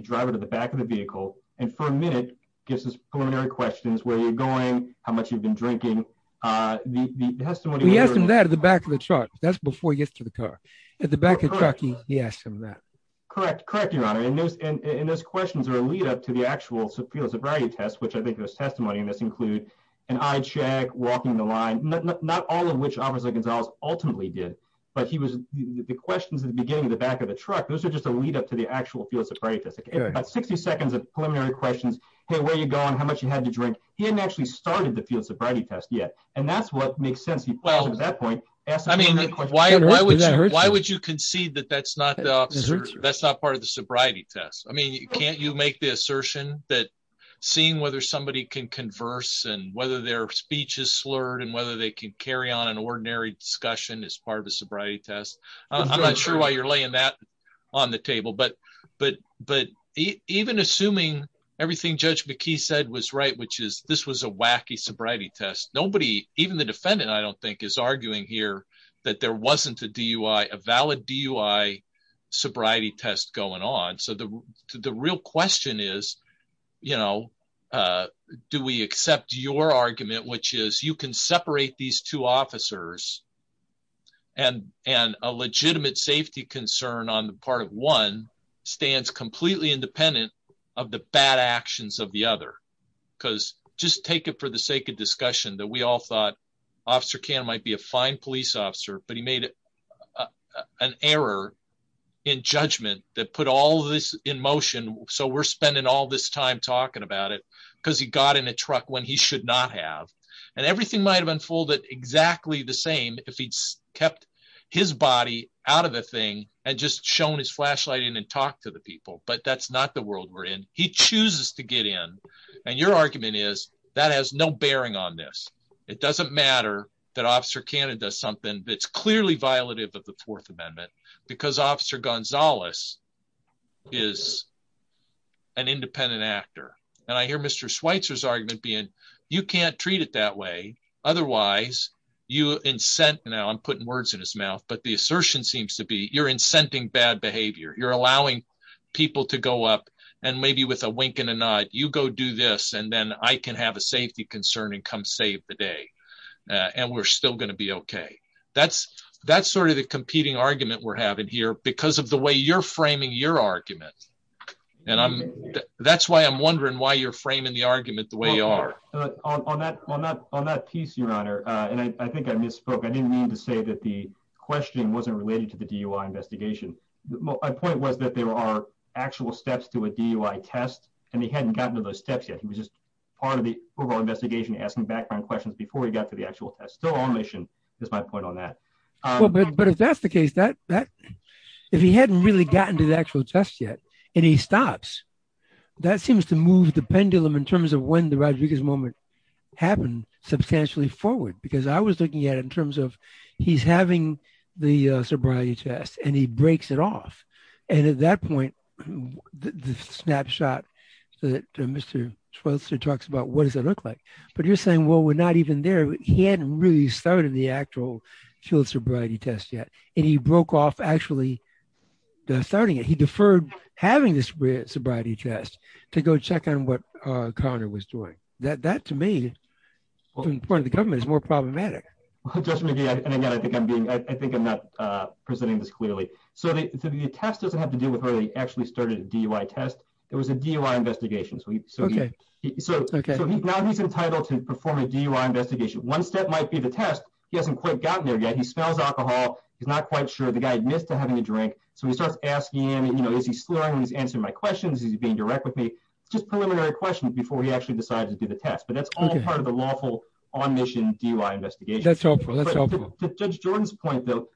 driver to the back of the vehicle and for a minute gives us preliminary questions, where you're going, how much you've been drinking. The testimony- He asks him that at the back of the truck. That's before he gets to the car. At the back of the truck, he asks him that. Correct. Correct, Your Honor. And those questions are a lead-up to the actual field sobriety test, which I think there's testimony in this include an eye check, walking the line, not all of which Officer Gonzalez ultimately did, but he was- the questions at the beginning of the back of the truck, those are just a lead-up to the actual field sobriety test. It's about 60 seconds of preliminary questions, hey, where are you going, how much you had to drink. He hadn't actually started the field sobriety test yet, and that's the extent of that point. I mean, why would you concede that that's not part of the sobriety test? I mean, can't you make the assertion that seeing whether somebody can converse and whether their speech is slurred and whether they can carry on an ordinary discussion is part of the sobriety test? I'm not sure why you're laying that on the table, but even assuming everything Judge McKee said was right, which is this was a wacky sobriety test, nobody, even the defendant, I don't think, is arguing here that there wasn't a DUI, a valid DUI sobriety test going on. So the real question is, you know, do we accept your argument, which is you can separate these two officers and a legitimate safety concern on the part of one stands completely independent of the bad actions of the other? Because just take it for the sake of discussion that we all thought Officer Kan might be a fine police officer, but he made an error in judgment that put all this in motion, so we're spending all this time talking about it because he got in a truck when he should not have. And everything might have unfolded exactly the same if he'd kept his body out of the thing and just shown his flashlight and talked to the people, but that's not the world we're in. He chooses to get in, and your argument is that has no bearing on this. It doesn't matter that Officer Kan does something that's clearly violative of the Fourth Amendment because Officer Gonzalez is an independent actor. And I hear Mr. Schweitzer's argument being you can't treat it that way, otherwise you incent, now I'm putting words in his mouth, but the assertion seems to be you're you go do this, and then I can have a safety concern and come save the day, and we're still going to be okay. That's sort of the competing argument we're having here because of the way you're framing your argument, and that's why I'm wondering why you're framing the argument the way you are. On that piece, Your Honor, and I think I misspoke, I didn't mean to say that the questioning wasn't related to the DUI investigation. My point was that there are actual steps to a DUI test, and he hadn't gotten to those steps yet. He was just part of the overall investigation, asking background questions before he got to the actual test. So our mission is my point on that. But if that's the case, if he hadn't really gotten to the actual test yet and he stops, that seems to move the pendulum in terms of when the Rodriguez moment happened substantially forward because I was looking at it in terms of he's having the sobriety test, and he breaks it off, and at that point, the snapshot that Mr. Schultz talks about, what does that look like? But you're saying, well, we're not even there. He hadn't really started the actual child sobriety test yet, and he broke off actually starting it. He deferred having this sobriety test to go check on what Connor was doing. That to me, in front of the government, is more problematic. I think I'm not presenting this clearly. So the test doesn't have to do with whether he actually started a DUI test. It was a DUI investigation. So now he's entitled to perform a DUI investigation. Once that might be the test, he hasn't quite gotten there yet. He smells alcohol. He's not quite sure. The guy admits to having a drink. So he starts asking, is he swearing? Is he answering my questions? Is he being direct with me? Just preliminary questions before he actually decides to do the test. But that's all part of the lawful on-mission DUI investigation. To Judge Jordan's point, though,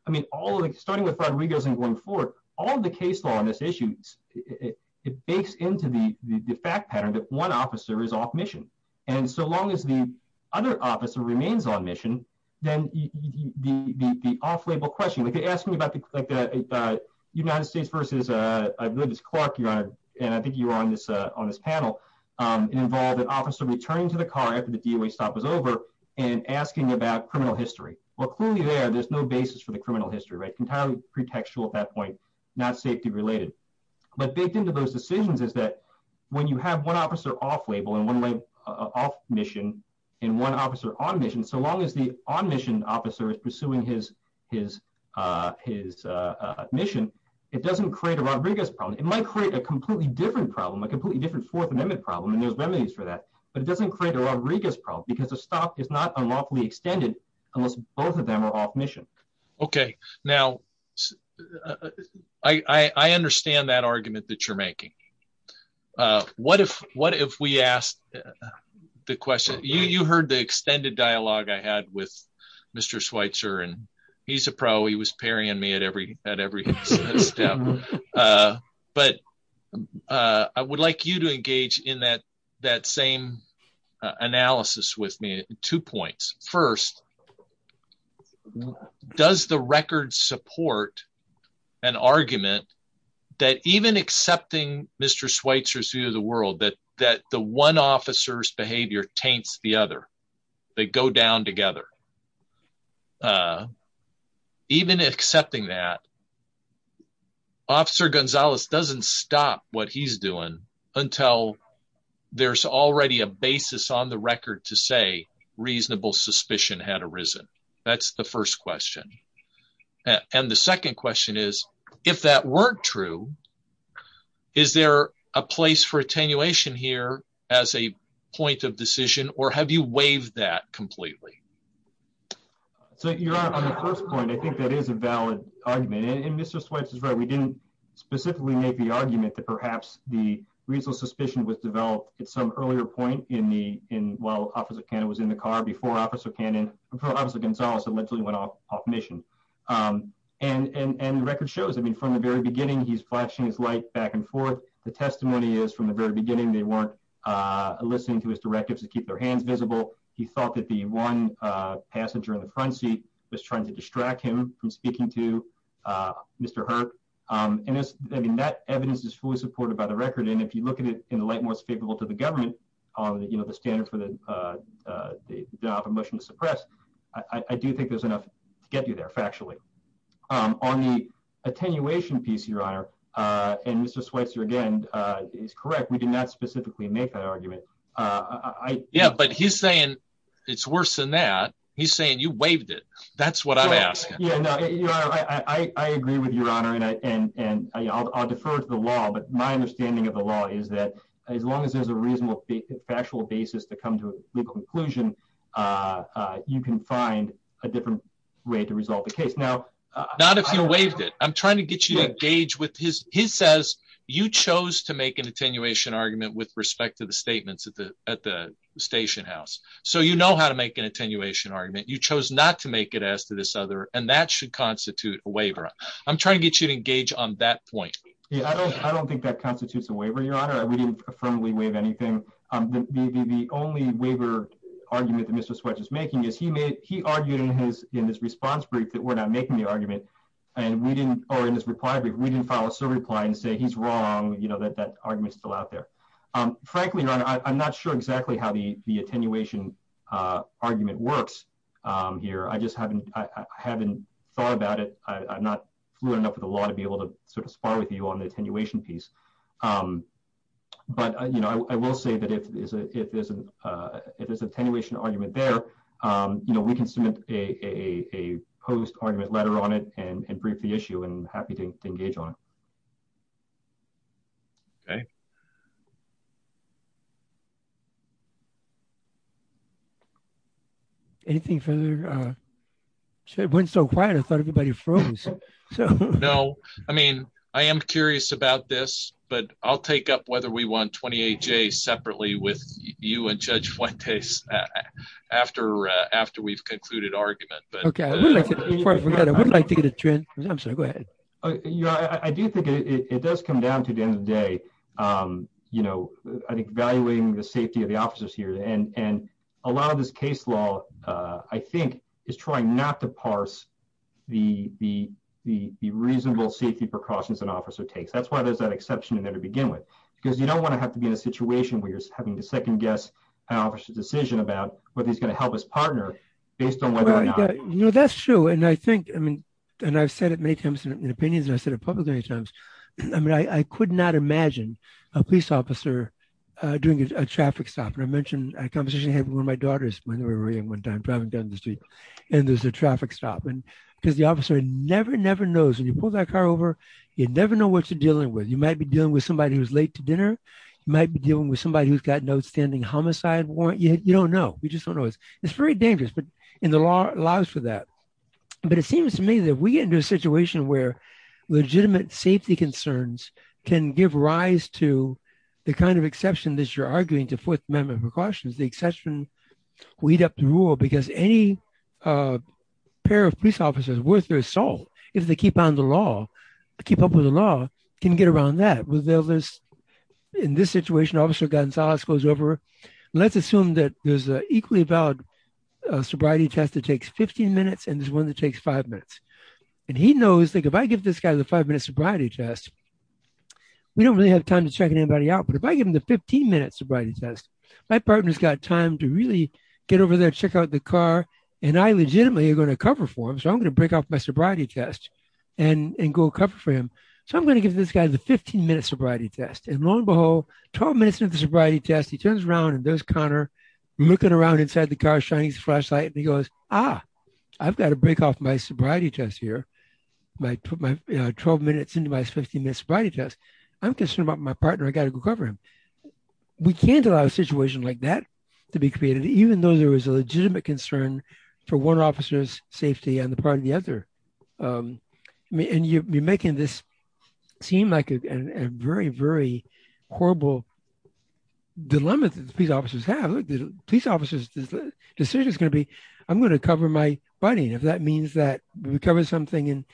starting with Rodrigo's and going forward, all of the case law on this issue, it bakes into the fact pattern that one officer is off-mission. And so long as the other officer remains on-mission, then the off-label question, if you're asking about the United States versus, I believe it's Clark, and I think you were on this panel, involved an officer returning to the car after the DUI stop was over and asking about criminal history. Well, clearly there, there's no basis for the criminal history, right? Entirely pretextual at that point, not safety related. But baked into those decisions is that when you have one officer off-label and one off-mission and one officer on-mission, so long as the on-mission officer is pursuing his mission, it doesn't create a Rodriguez problem. It might create a completely different problem, a completely different fourth amendment problem, and there's remedies for that, but it doesn't create a Rodriguez problem because the stop is not unlawfully extended unless both of them are off-mission. Okay. Now, I understand that argument that you're making. What if we asked the question, you heard the extended dialogue I had with Mr. Schweitzer, and he's a pro, he was paring me at every step, but I would like you to engage in that same analysis with me, two points. First, does the record support an argument that even accepting Mr. Schweitzer's view of the world, that the one officer's behavior taints the other, they go down together. Even accepting that, Officer Gonzalez doesn't stop what he's doing until there's already a that's the first question. And the second question is, if that weren't true, is there a place for attenuation here as a point of decision, or have you waived that completely? So, Your Honor, on the first point, I think that is a valid argument, and Mr. Schweitzer's right, we didn't specifically make the argument that perhaps the reasonable suspicion was developed at some earlier point while Officer Cannon was in the car before Officer Gonzalez went off mission. And the record shows, I mean, from the very beginning, he's flashing his light back and forth. The testimony is, from the very beginning, they weren't listening to his directives to keep their hands visible. He thought that the one passenger in the front seat was trying to distract him from speaking to Mr. Hurt. And that evidence is fully supported by the record, and if you look at it in a light more speakable to the government, you know, the standard for the motion to suppress, I do think there's enough to get you there, factually. On the attenuation piece, Your Honor, and Mr. Schweitzer, again, is correct, we did not specifically make that argument. Yeah, but he's saying it's worse than that. He's saying you waived it. That's what I'm asking. Yeah, I agree with Your Honor, and I'll defer to the law, but my understanding of the law is that as long as there's a reasonable factual basis to come to legal conclusion, you can find a different way to resolve the case. Now, not if you waived it. I'm trying to get you engaged with his, he says you chose to make an attenuation argument with respect to the statements at the station house, so you know how to make an attenuation argument. You chose not to make it as to this other, and that should constitute a waiver. I'm trying to get you engaged on that point. Yeah, I don't think that constitutes a waiver, Your Honor. We didn't affirmably waive anything. The only waiver argument that Mr. Schweitzer is making is he made, he argued in his response brief that we're not making the argument, and we didn't, or in his reply brief, we didn't file a civil reply and say he's wrong, you know, that argument's still out there. Frankly, Your Honor, I'm not sure exactly how the attenuation argument works here. I just haven't thought about it. I'm not fluent enough with the law to be able to sort of spar with you on the attenuation piece, but, you know, I will say that if there's an attenuation argument there, you know, we can submit a post-argument letter on it and brief the issue, and I'm happy to engage on it. Okay. Anything further? It went so quiet, I thought everybody froze. No, I mean, I am curious about this, but I'll take up whether we want 28-J separately with you and Judge Fuentes after we've concluded argument. Okay. I would like to get a transcription. Go ahead. You know, I do think it does come down to the end of the day, you know, evaluating the safety of the officers here, and a lot of this case law, I think, is trying not to parse the reasonable safety precautions an officer takes. That's why there's that exception in there to begin with, because you don't want to have to be in a situation where you're having to second-guess an officer's decision about whether he's going to help his family. That's true, and I think, I mean, and I've said it many times in opinions, and I've said it publicly many times, I mean, I could not imagine a police officer doing a traffic stop, and I mentioned a conversation I had with one of my daughters when we were driving down the street, and there's a traffic stop, because the officer never, never knows. When you pull that car over, you never know what you're dealing with. You might be dealing with somebody who's late to dinner. You might be dealing with somebody who's got no standing homicide warrant. You don't know. It's very dangerous, and the law allows for that, but it seems to me that we get into a situation where legitimate safety concerns can give rise to the kind of exception that you're arguing, the Fourth Amendment precautions, the exception we'd have to rule, because any pair of police officers worth their salt, if they keep up with the law, can get around that. In this situation, Officer Gonzalez goes over. Let's assume that there's an equally valid sobriety test that takes 15 minutes, and there's one that takes five minutes, and he knows that if I give this guy the five-minute sobriety test, we don't really have time to check anybody out, but if I give him the 15-minute sobriety test, my partner's got time to really get over there, check out the car, and I legitimately are going to cover for him, so I'm going to break off my sobriety test and go cover for him, so I'm going to give this guy the 15-minute sobriety test, and lo and behold, 12 minutes into the sobriety test, he turns around, and there's Connor looking around inside the car, shining his flashlight, and he goes, ah, I've got to break off my sobriety test here. I put my 12 minutes into my 15-minute sobriety test. I'm concerned about my partner. I've got to go cover him. We can't allow a situation like that to be created, even though there is a legitimate concern for one officer's safety on the part of the other, and you're making this seem like a very, very horrible dilemma that the police officers have. The police officer's decision is going to be, I'm going to cover my buddy, and if that means that we cover something and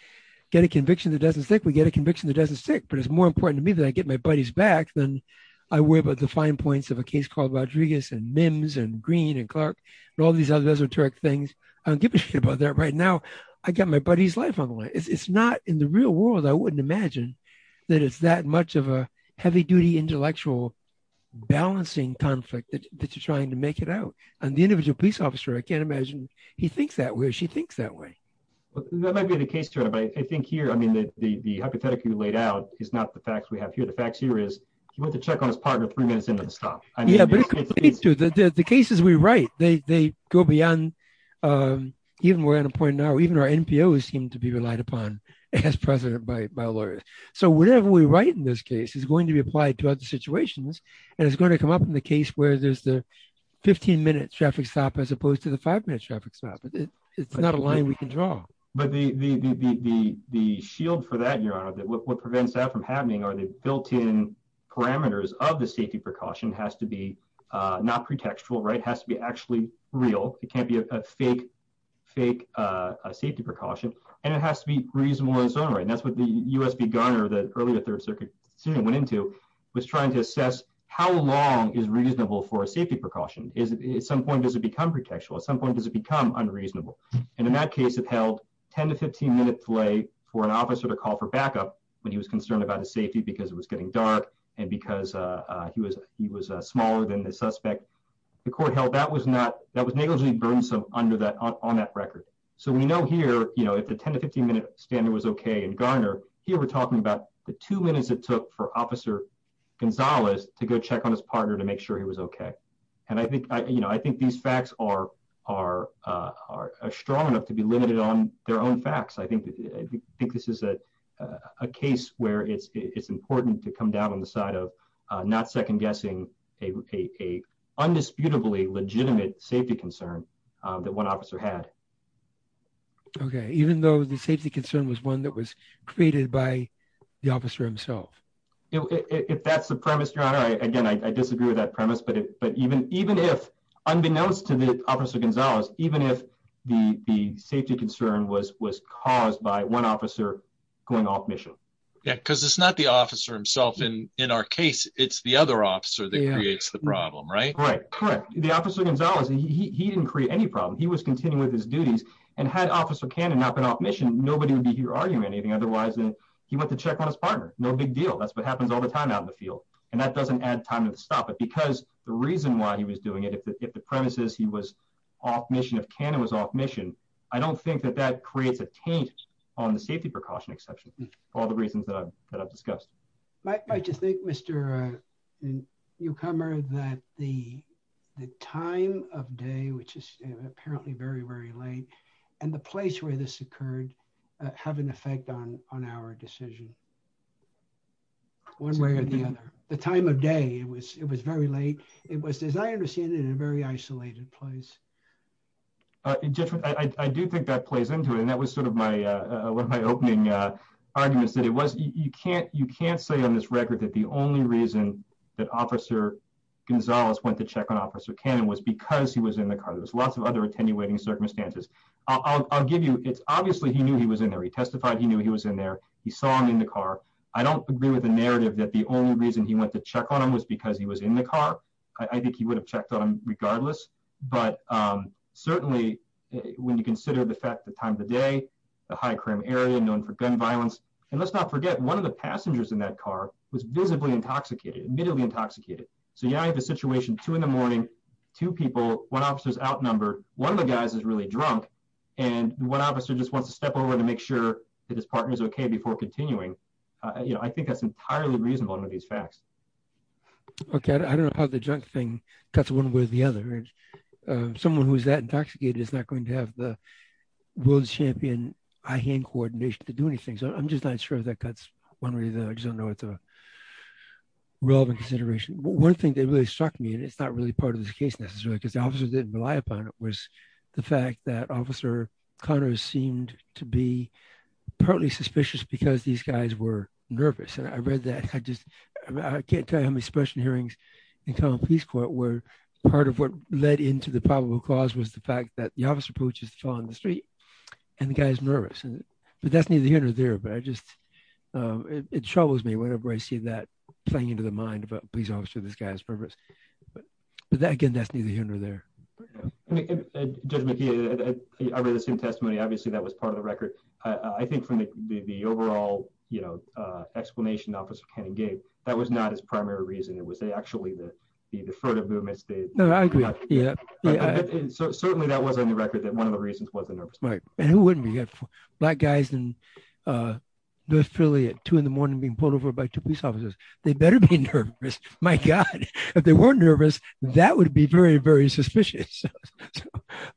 get a conviction that doesn't stick, we get a conviction that doesn't stick, but it's more important to me that I get my buddies back than I worry about the fine points of a case called Rodriguez and Mims and Green and Clark and all these other esoteric things. I don't give a shit about that right now. I got my buddy's life on the line. It's not in the real world I wouldn't imagine that it's that much of a heavy-duty intellectual balancing conflict that you're trying to make it out, and the individual police officer, I can't imagine he thinks that way or she thinks that way. That might be the case, too, but I think here, I mean, the hypothetical you laid out is not the facts we have here. The facts here is he went to check on his partner three minutes ago. The cases we write, they go beyond, even we're at a point now, even our NPOs seem to be relied upon as president by lawyers, so whatever we write in this case is going to be applied to other situations, and it's going to come up in the case where there's the 15-minute traffic stop as opposed to the five-minute traffic stop. It's not a line we can draw. But the shield for that, what prevents that from happening are the built-in parameters of the safety precaution. It has to be not pretextual, right? It has to be actually real. It can't be a fake safety precaution, and it has to be reasonable on its own, right? That's what the USB gun or the earlier third circuit went into was trying to assess how long is reasonable for a safety precaution. At some point, does it become pretextual? At some point, does it become unreasonable? In that case, it held 10 to 15 minutes delay for an officer to call for backup when he was concerned about his safety because it was getting dark and because he was smaller than the suspect. The court held that was negligently burdensome on that record. We know here, if the 10 to 15-minute standard was okay in Garner, here we're talking about the two minutes it took for Officer Gonzalez to go check on his partner to make sure he was okay. I think these facts are strong enough to be limited on their own facts. I think this is a case where it's important to come down on the side of not second-guessing an undisputably legitimate safety concern that one officer had. Okay. Even though the safety concern was one that was created by the officer himself? If that's the premise you're on, again, I disagree with that premise. Unbeknownst to the Officer Gonzalez, even if the safety concern was caused by one officer going off mission. Because it's not the officer himself in our case, it's the other officer that creates the problem, right? Right. Correct. The Officer Gonzalez, he didn't create any problem. He was continuing with his duties. Had Officer Cannon not been off mission, nobody would be here arguing anything. Otherwise, he went to check on his partner. No big deal. That's what happens all the time out in the field. And that doesn't add time to stop it. Because the reason why he was doing it, if the premise is he was off mission, if Cannon was off mission, I don't think that that creates a taint on the safety precaution exception. All the reasons that I've discussed. I just think, Mr. Newcomer, that the time of day, which is apparently very, very late, and the place where this occurred have an effect on our decision. One way or the other. The time of day, it was very late. It was, as I understand it, in a very isolated place. I do think that plays into it. And that was sort of one of my opening arguments. You can't say on this record that the only reason that Officer Gonzalez went to check on Officer Cannon was because he was in the car. There's lots of other attenuating circumstances. I'll give you, it's obviously he knew he was in there. He testified he knew he was in there. He saw him in the car. I don't agree with the narrative that the only reason he went to check on him was because he was in the car. I think he would have checked on him regardless. But certainly, when you consider the fact that times of day, the high crime area known for gun violence. And let's not forget, one of the passengers in that car was visibly intoxicated, admittedly intoxicated. So you have a situation two in the morning, two people, one officer's outnumbered. One of the guys is really drunk. And one officer just wants to step over to make sure that his partner's okay before continuing. I think that's entirely reasonable under these facts. Okay. I don't know how the drunk thing cuts one way or the other. Someone who's that intoxicated is not going to have the world champion eye-hand coordination to do anything. So I'm just not sure that cuts one way or the other. I just don't know what the relevant consideration. One thing that really struck me, and it's not really part of this case necessarily, because the officer didn't rely upon it, was the fact that Officer Connors seemed to be partly suspicious because these guys were nervous. And I read that. I can't tell you how many special hearings in common police court where part of what led into the probable cause was the fact that the officer approaches the fellow on the street and the guy's nervous. And that's neither here nor there, but it troubles me whenever I see that playing into the mind of a police officer, this guy's nervous. But again, that's neither here nor there. Judge McKeon, I read the same testimony. Obviously, that was part of the record. I think from the overall explanation Officer Cannon gave, that was not his primary reason. It was actually the deferred movements. No, I agree. Yeah. Certainly, that was on the record that one of the reasons was the nervousness. Right. And who wouldn't be nervous? Black guys in North Philly at two in the morning being pulled over by two police officers, they'd better be nervous. My God. If they weren't nervous, that would be very, very suspicious.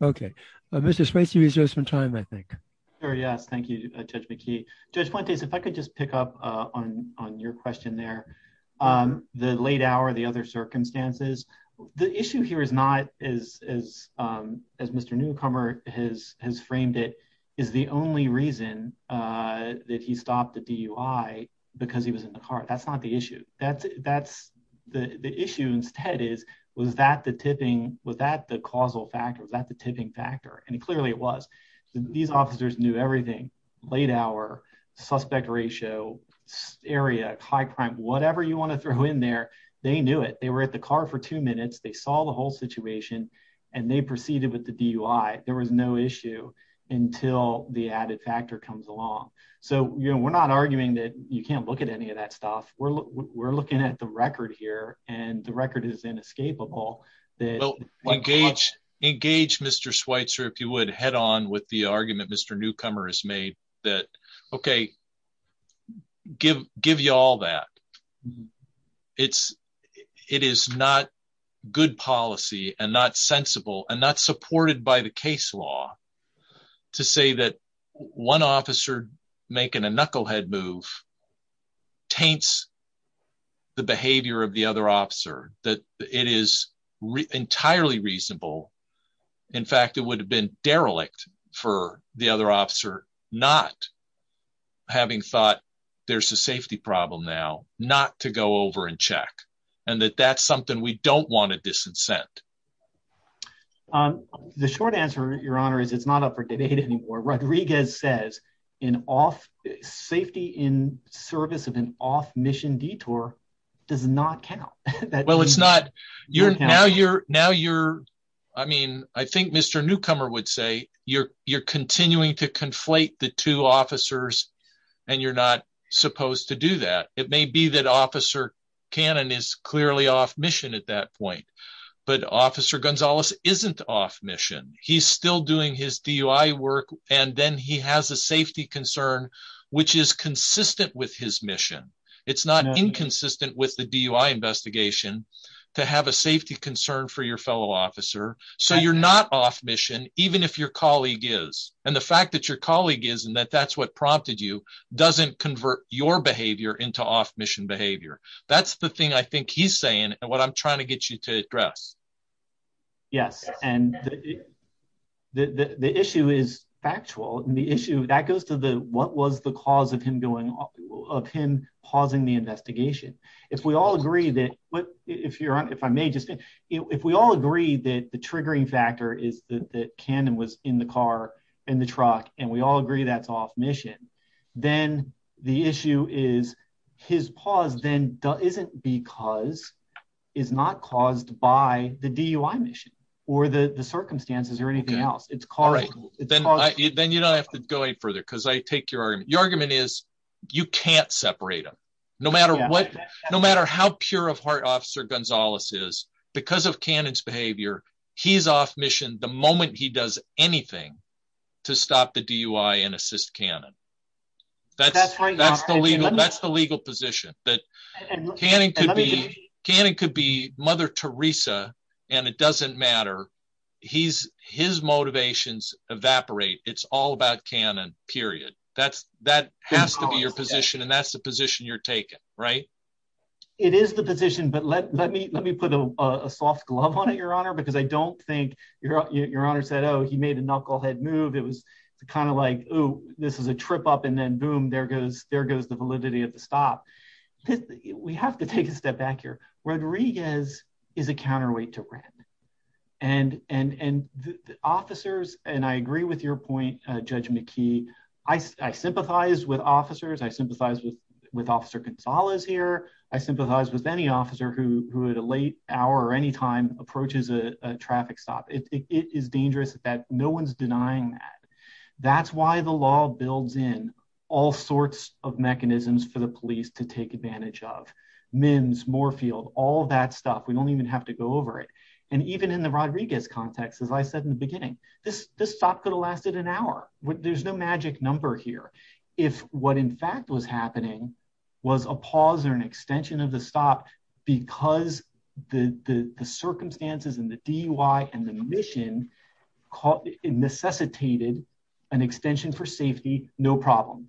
Okay. Mr. Swenty, we still have some time, I think. Sure, yes. Thank you, Judge McKee. Judge Swenty, if I could just pick up on your question there. The late hour, the other circumstances, the issue here is not, as Mr. Newcomer has framed it, is the only reason that he stopped the DUI because he was in the car. That's not the issue. The issue instead is, was that the tipping, was that the causal factor, was that the tipping factor? And clearly it was. These officers knew everything. Late hour, suspect ratio, area, high crime, whatever you want to throw in there, they knew it. They were at the car for two minutes, they saw the whole situation, and they proceeded with the DUI. There was no issue until the added factor comes along. So we're not arguing that you can't look at any of that stuff. We're looking at the record here, and the record is inescapable. Engage Mr. Schweitzer, if you would, head on with the argument Mr. Newcomer has made that, okay, give you all that. It is not good policy and not making a knucklehead move taints the behavior of the other officer, that it is entirely reasonable. In fact, it would have been derelict for the other officer not having thought, there's a safety problem now, not to go over and check, and that that's something we don't want to disincent. The short answer, Your Honor, is it's not up for debate anymore. Rodriguez says an off, safety in service of an off-mission detour does not count. Well, it's not. Now you're, now you're, I mean, I think Mr. Newcomer would say you're, you're continuing to conflate the two officers, and you're not supposed to do that. It may be that Officer Cannon is clearly off mission at that point, but Officer Gonzalez isn't off mission. He's still doing his DUI work, and then he has a safety concern which is consistent with his mission. It's not inconsistent with the DUI investigation to have a safety concern for your fellow officer, so you're not off mission even if your colleague is, and the fact that your colleague is and that that's what prompted you doesn't convert your behavior into off-mission behavior. That's the thing I think you're saying and what I'm trying to get you to address. Yes, and the issue is factual, and the issue, that goes to the what was the cause of him doing, of him pausing the investigation. If we all agree that, but if you're, if I may just, if we all agree that the triggering factor is that Cannon was in the car, in the truck, and we all agree that's off mission, then the issue is his pause then isn't because it's not caused by the DUI mission or the circumstances or anything else. It's caused, then you don't have to go any further because I take your argument. Your argument is you can't separate them. No matter what, no matter how pure of heart Officer Gonzalez is, because of Cannon's behavior, he's off mission the moment he does anything to stop the DUI and assist Cannon. That's the legal position. Cannon could be Mother Teresa, and it doesn't matter. His motivations evaporate. It's all about Cannon, period. That has to be your position, and that's the position you're taking, right? It is the position, but let me put a soft glove on it, Your Honor, because I don't think Your Honor said, oh he made a knucklehead move. Kind of like, oh, this is a trip up and then boom, there goes the validity of the stop. We have to take a step back here. Rodriguez is a counterweight to Ratner, and officers, and I agree with your point, Judge McKee, I sympathize with officers. I sympathize with Officer Gonzalez here. I sympathize with any officer who at a late hour or any time approaches a That's why the law builds in all sorts of mechanisms for the police to take advantage of. MNs, Moorfield, all that stuff. We don't even have to go over it, and even in the Rodriguez context, as I said in the beginning, this stop could have lasted an hour. There's no magic number here. If what in fact was happening was a pause or an extension of the stop because the circumstances and the DUI and the mission necessitated an extension for safety, no problem.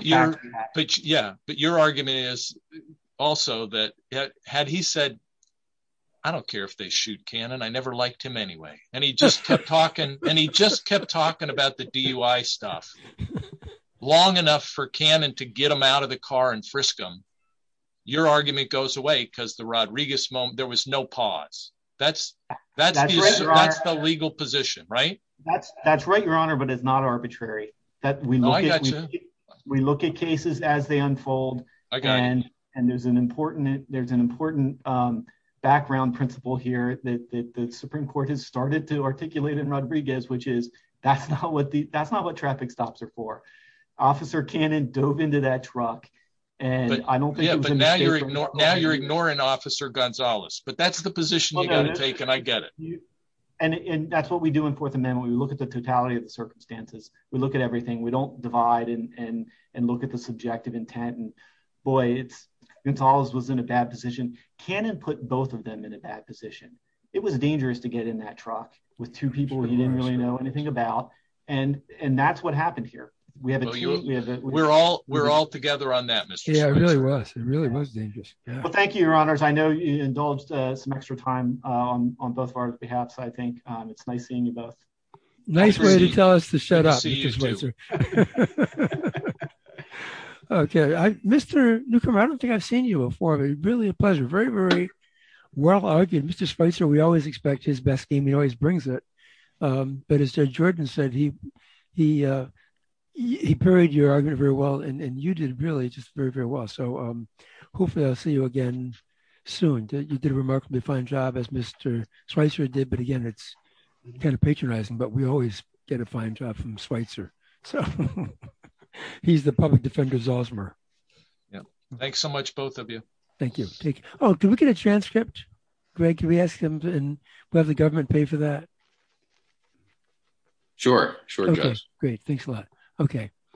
Yeah, but your argument is also that had he said, I don't care if they shoot Cannon, I never liked him anyway, and he just kept talking, and he just kept talking about the DUI stuff long enough for Cannon to get him out of the car and frisk him, your argument goes away because the Rodriguez moment, there was no pause. That's the legal position, right? That's right, Your Honor, but it's not arbitrary. We look at cases as they unfold, and there's an important background principle here that the Supreme Court has started to articulate in Rodriguez, which is that's not what traffic stops are for. Officer Cannon dove into that truck, and I don't think- Yeah, but now you're ignoring Officer Gonzalez, but that's the position you've got to take, and I get it. And that's what we do in Fourth Amendment. We look at the totality of the circumstances. We look at everything. We don't divide and look at the subjective intent, and boy, Gonzalez was in a bad position. Cannon put both of them in a bad position. It was dangerous to get in that truck with two people he didn't really know anything about, and that's what happened here. We have a- We're all together on that, Mr. Spicer. Yeah, it really was. It really was dangerous. Thank you, Your Honors. I know you indulged some extra time on both of our behalf, so I think it's nice seeing you both. Nice way to tell us to shut up, Mr. Spicer. Okay. Mr. Newcomer, I don't think I've seen you before. It's really a pleasure. Very, very well-argued. Mr. Spicer, we always expect his best game. He always brings it, but as Judge Jordan said, he parried your argument very well, and you did really just very, very well. So hopefully, I'll see you again soon. You did a remarkably fine job, as Mr. Spicer did, but again, it's kind of patronizing, but we always get a fine job from Spicer. He's the public defender's Osmer. Yeah. Thanks so much, both of you. Thank you. Oh, can we get a transcript, Greg? Can we ask him and let the government pay for that? Sure. Sure, guys. Great. Thanks a lot. Okay.